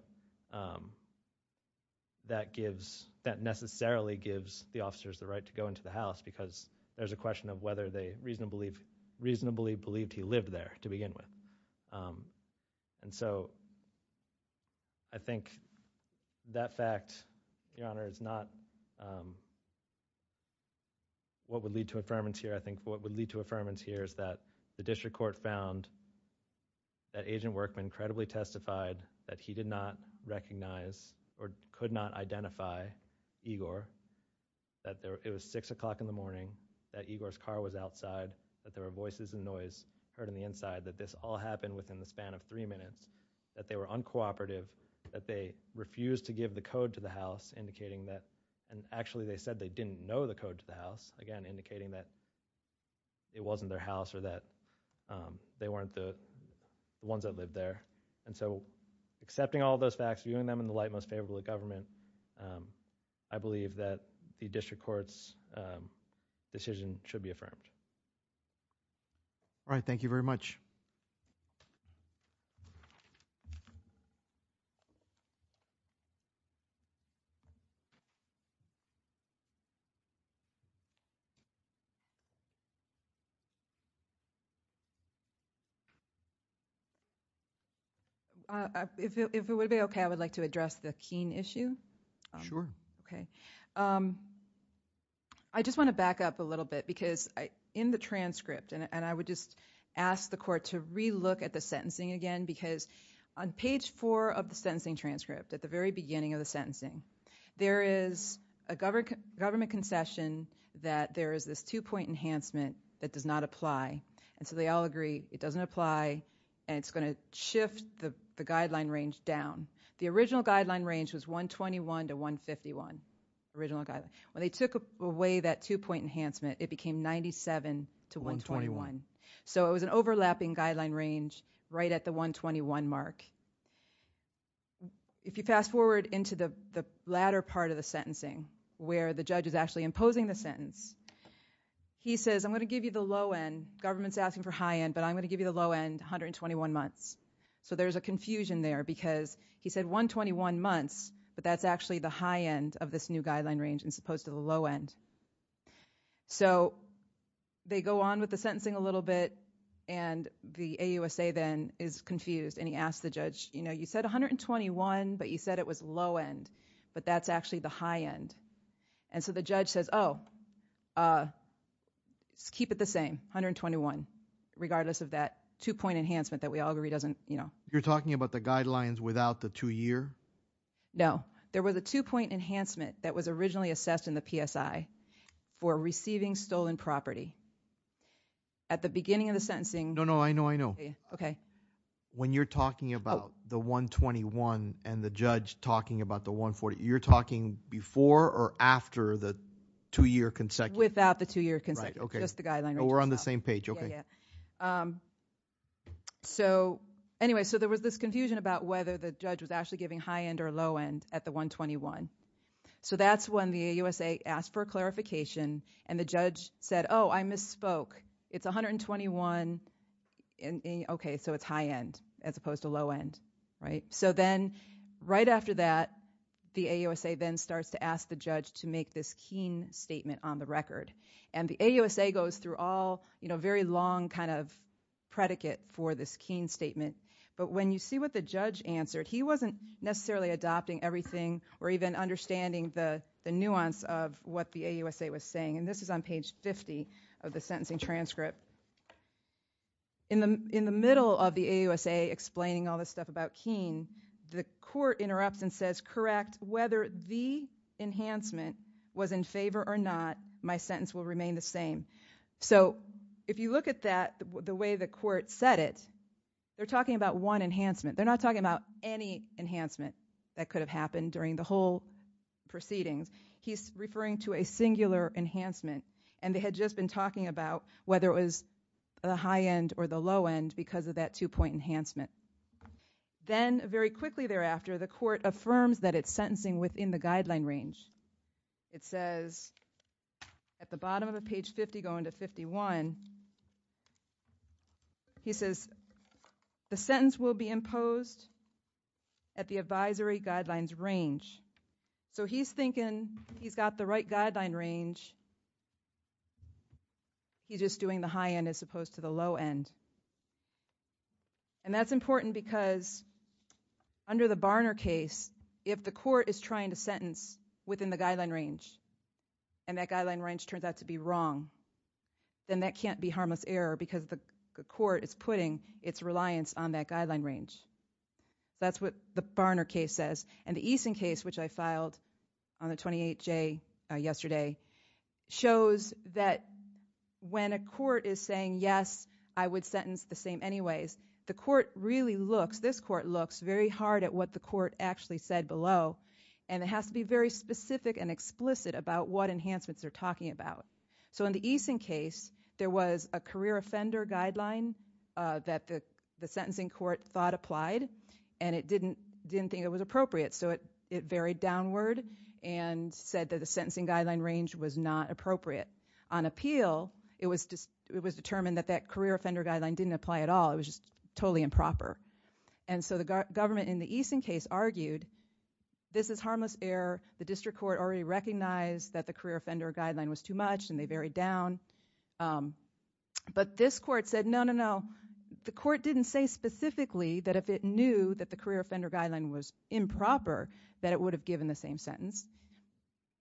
that gives, that necessarily gives the officers the right to go into the house because there's a question of whether they reasonably believed he lived there to begin with. And so, I think that fact, Your Honor, is not what would lead to affirmance here. I think what would lead to affirmance here is that the district court found that Agent Workman credibly testified that he did not recognize or could not identify Igor, that it was six o'clock in the morning, that Igor's car was outside, that there were voices and noise heard on the inside, that this all happened within the span of three minutes, that they were uncooperative, that they refused to give the code to the house, indicating that, and actually they said they didn't know the code to the house, again, indicating that it wasn't their house or that they weren't the ones that lived there. And so, accepting all those facts, viewing them in the light most favorable to government, I believe that the district court's decision should be affirmed. All right, thank you very much. If it would be okay, I would like to address the Keene issue. Sure. Okay. I just want to back up a little bit because in the transcript, and I would just ask the court to re-look at the sentencing again because on page four of the sentencing transcript, at the very beginning of the sentencing, there is a government concession that there is this two-point enhancement that does not apply. And so they all agree, it doesn't apply and it's going to shift the guideline range down. The original guideline range was 121 to 151, original guideline. When they took away that two-point enhancement, it became 97 to 121. So it was an overlapping guideline range right at the 121 mark. If you fast forward into the latter part of the sentencing where the judge is actually imposing the sentence, he says, I'm going to give you the low end, government's asking for high end, but I'm going to give you the low end, 121 months. So there's a confusion there because he said 121 months, but that's actually the high end of this new guideline range as opposed to the low end. So they go on with the sentencing a little bit and the AUSA then is confused and he asked the judge, you said 121, but you said it was low end, but that's actually the high end. And so the judge says, oh, keep it the same, 121, regardless of that two point enhancement that we all agree doesn't, you know. You're talking about the guidelines without the two year. No, there was a two point enhancement that was originally assessed in the PSI for receiving stolen property at the beginning of the sentencing. No, no, I know, I know. Okay. When you're talking about the 121 and the judge talking about the 140, you're talking before or after the two year consecutive. Without the two year consecutive, just the guideline. We're on the same page. So anyway, so there was this confusion about whether the judge was actually giving high end or low end at the 121. So that's when the AUSA asked for clarification and the judge said, oh, I misspoke. It's 121. Okay, so it's high end as opposed to low end, right? So then right after that, the AUSA then starts to ask the judge to make this keen statement on the record. And the AUSA goes through all, you know, very long kind of predicate for this keen statement. But when you see what the judge answered, he wasn't necessarily adopting everything or even understanding the nuance of what the AUSA was saying. And this is on page 50 of the sentencing transcript. In the middle of the AUSA explaining all this stuff about keen, the court interrupts and says, correct, whether the enhancement was in favor or not, my sentence will remain the same. So if you look at that, the way the court said it, they're talking about one enhancement. They're not talking about any enhancement that could have happened during the whole proceedings. He's referring to a singular enhancement and they had just been talking about whether it was the high end or the low end because of that two point enhancement. Then very quickly thereafter, the court affirms that it's sentencing within the guideline range. It says at the bottom of a page 50 going to 51. He says the sentence will be imposed at the advisory guidelines range. So he's thinking he's got the right guideline range. He's just doing the high end as opposed to the low end. And that's important because under the Barner case, if the court is trying to sentence within the guideline range and that guideline range turns out to be wrong, then that can't be harmless error because the court is putting its reliance on that guideline range. That's what the Barner case says. And the Eason case, which I filed on the 28J yesterday, shows that when a court is saying, yes, I would sentence the same anyways, the court really looks, this court looks very hard at what the court actually said below. And it has to be very specific and explicit about what enhancements they're talking about. So in the Eason case, there was a career offender guideline that the sentencing court thought applied and it didn't think it was appropriate. So it varied downward and said that the sentencing guideline range was not appropriate. On appeal, it was determined that that career offender guideline didn't apply at all. It was just totally improper. And so the government in the Eason case argued this is harmless error. The district court already recognized that the career offender guideline was too much and they varied down. But this court said, no, no, no. The court didn't say specifically that if it knew that the career offender guideline was improper, that it would have given the same sentence.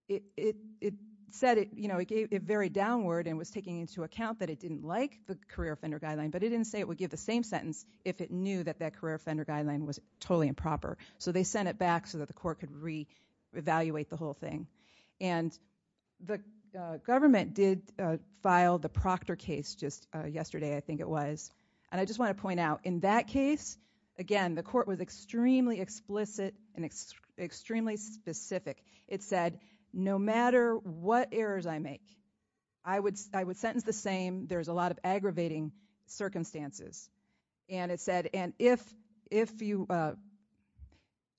It said it varied downward and was taking into account that it didn't like the career offender guideline, but it didn't say it would give the same sentence if it knew that that career offender guideline was totally improper. So they sent it back so that the court could re-evaluate the whole thing. And the government did file the Proctor case just yesterday, I think it was. And I just want to point out in that case, again, the court was extremely explicit and extremely specific. It said, no matter what errors I make, I would sentence the same. There's a lot of aggravating circumstances. And it said, and if you,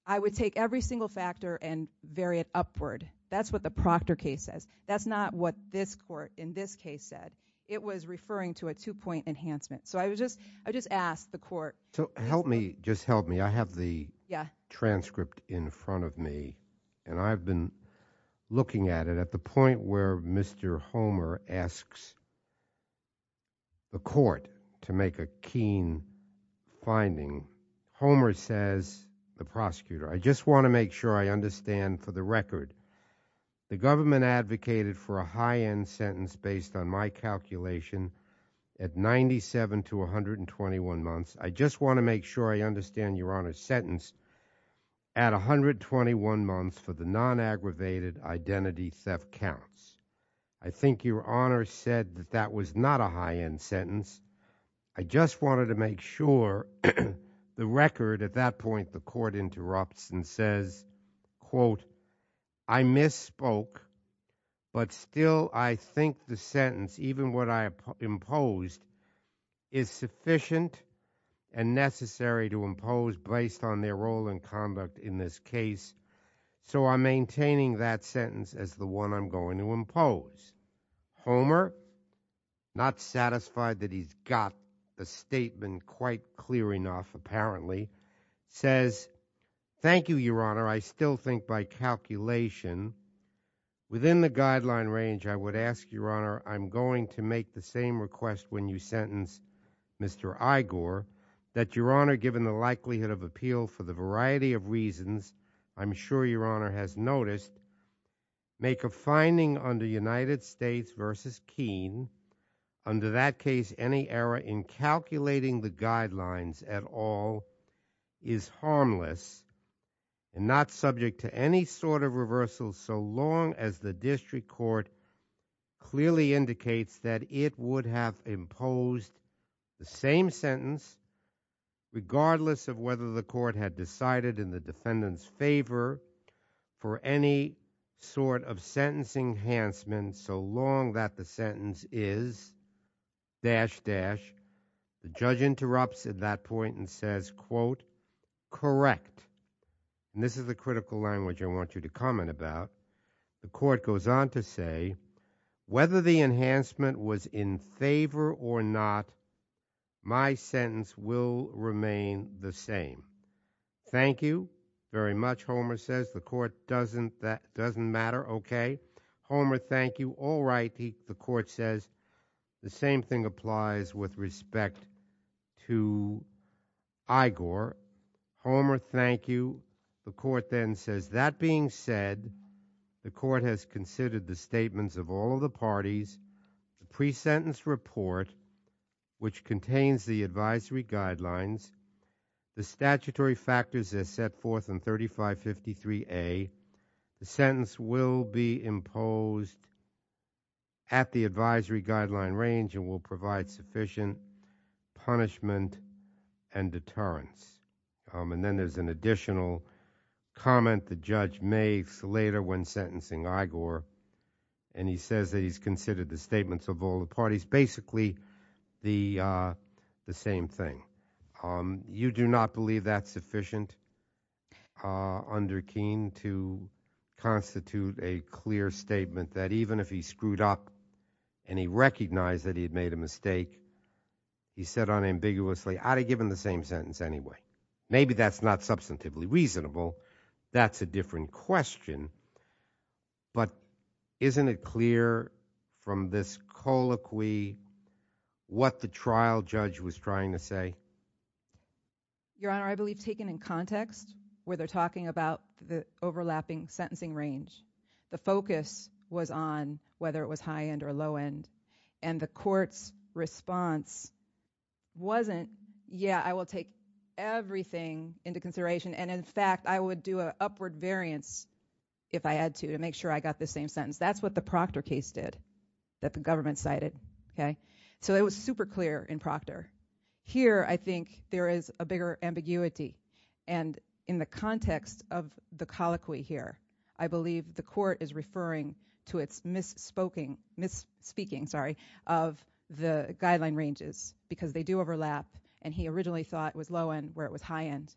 I would take every single factor and vary it upward. That's what the Proctor case says. That's not what this court in this case said. It was referring to a two-point enhancement. So I was just, I just asked the court. So help me, just help me. I have the transcript in front of me and I've been looking at it at the point where Mr. Homer asks the court to make a keen finding. Homer says, the prosecutor, I just want to make sure I understand for the record, the government advocated for a high-end sentence based on my calculation at 97 to 121 months. I just want to make sure I understand your honor's sentence at 121 months for the non-aggravated identity theft counts. I think your honor said that that was not a high-end sentence. I just wanted to make sure the record at that point, the court interrupts and says, quote, I misspoke, but still I think the sentence, even what I imposed is sufficient and necessary to impose based on their role and conduct in this case. So I'm maintaining that sentence Homer, not satisfied that he's got the statement quite clear enough, apparently says, thank you, your honor. I still think by calculation within the guideline range, I would ask your honor, I'm going to make the same request when you sentence Mr. Igor that your honor, given the likelihood of appeal for the variety of reasons, I'm sure your honor has noticed make a finding under United States versus Keene under that case, any error in calculating the guidelines at all is harmless and not subject to any sort of reversal. So long as the district court clearly indicates that it would have imposed the same sentence, regardless of whether the court had decided in the defendant's favor for any sort of sentencing enhancement. So long that the sentence is dash dash, the judge interrupts at that point and says, quote, correct. And this is the critical language I want you to comment about. The court goes on to say, whether the enhancement was in favor or not, my sentence will remain the same. Thank you very much. Homer says the court doesn't matter. Okay, Homer, thank you. All right. The court says the same thing applies with respect to Igor. Homer, thank you. The court then says, that being said, the court has considered the statements of all of the parties, the pre-sentence report, which contains the advisory guidelines, the statutory factors as set forth in 3553A. The sentence will be imposed at the advisory guideline range and will provide sufficient punishment and deterrence. And then there's an additional comment the judge makes later when sentencing Igor. And he says that he's considered the statements of all the parties, basically the same thing. You do not believe that's sufficient under Keene to constitute a clear statement that even if he screwed up and he recognized that he had made a mistake, he said unambiguously, I'd have given the same sentence anyway. Maybe that's not substantively reasonable. That's a different question. But isn't it clear from this colloquy what the trial judge was trying to say? Your Honor, I believe taken in context where they're talking about the overlapping sentencing range. The focus was on whether it was high-end or low-end and the court's response wasn't, yeah, I will take everything into consideration. And in fact, I would do an upward variance if I had to to make sure I got the same sentence. That's what the Proctor case did that the government cited, okay? So it was super clear in Proctor. Here, I think there is a bigger ambiguity. And in the context of the colloquy here, I believe the court is referring to its misspeaking of the guideline ranges because they do overlap. And he originally thought it was low-end where it was high-end.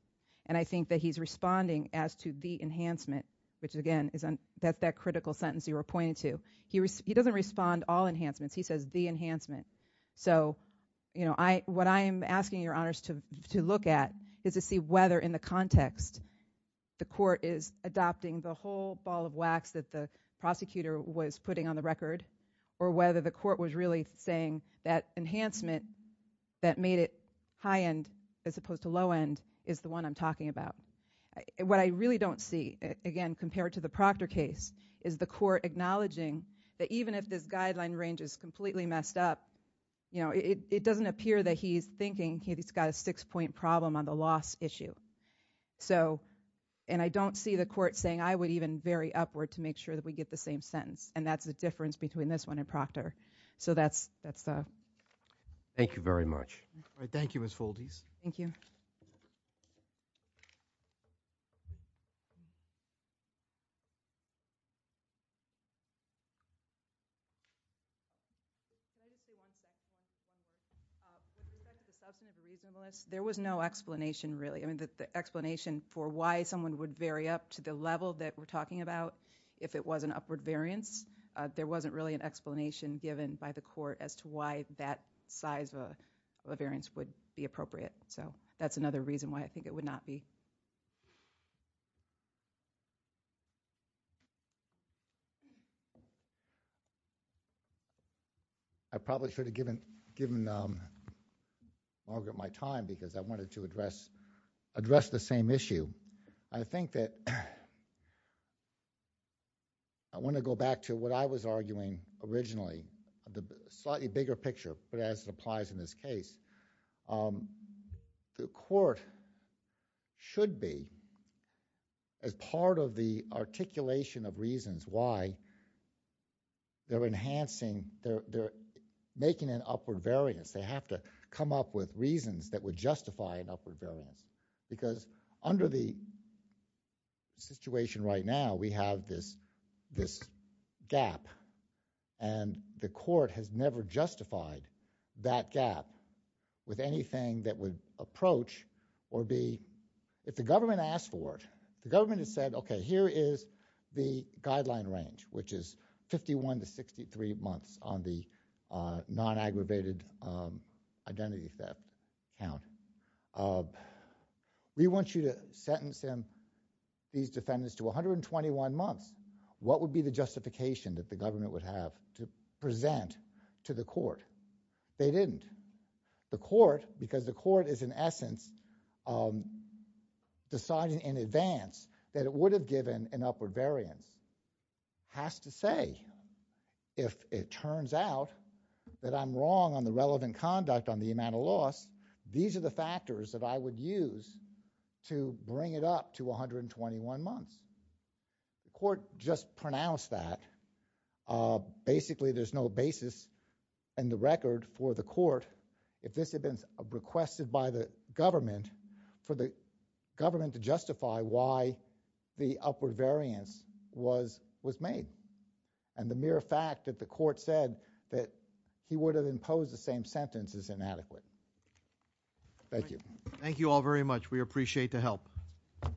And I think that he's responding as to the enhancement, which again is that critical sentence you were pointing to. He doesn't respond all enhancements. He says the enhancement. So what I am asking your honors to look at is to see whether in the context the court is adopting the whole ball of wax that the prosecutor was putting on the record or whether the court was really saying that enhancement that made it high-end as opposed to low-end is the one I'm talking about. What I really don't see, again, compared to the Proctor case is the court acknowledging that even if this guideline range is completely messed up, you know, it doesn't appear that he's thinking he's got a six-point problem on the loss issue. So, and I don't see the court saying I would even vary upward to make sure that we get the same sentence. And that's the difference between this one and Proctor. So that's the... Thank you very much. All right. Thank you, Ms. Foldis. Thank you. There was no explanation really. The explanation for why someone would vary up to the level that we're talking about, if it was an upward variance, there wasn't really an explanation given by the court as to why that size of a variance would be appropriate. So that's another reason why I think it would not be. I probably should have given Margaret my time because I wanted to address the same issue. I think that I want to go back to what I was arguing originally, the slightly bigger picture, but as it applies in this case, the court should be as part of the articulation of reasons why they're enhancing, they're making an upward variance. They have to come up with reasons that would justify an upward variance because under the situation right now, we have this gap and the court has never justified that gap with anything that would approach or be, if the government asked for it, the government has said, okay, here is the guideline range, which is 51 to 63 months on the non-aggravated identity theft. Now, we want you to sentence him, these defendants to 121 months. What would be the justification that the government would have to present to the court? They didn't. The court, because the court is in essence deciding in advance that it would have given an upward variance, has to say, if it turns out that I'm wrong on the relevant conduct on the amount of loss, these are the factors that I would use to bring it up to 121 months. The court just pronounced that. Basically, there's no basis in the record for the court if this had been requested by the government for the government to justify why the upward variance was made and the mere fact that the court said that he would have imposed the same sentence is inadequate. Thank you. Thank you all very much. We appreciate the help.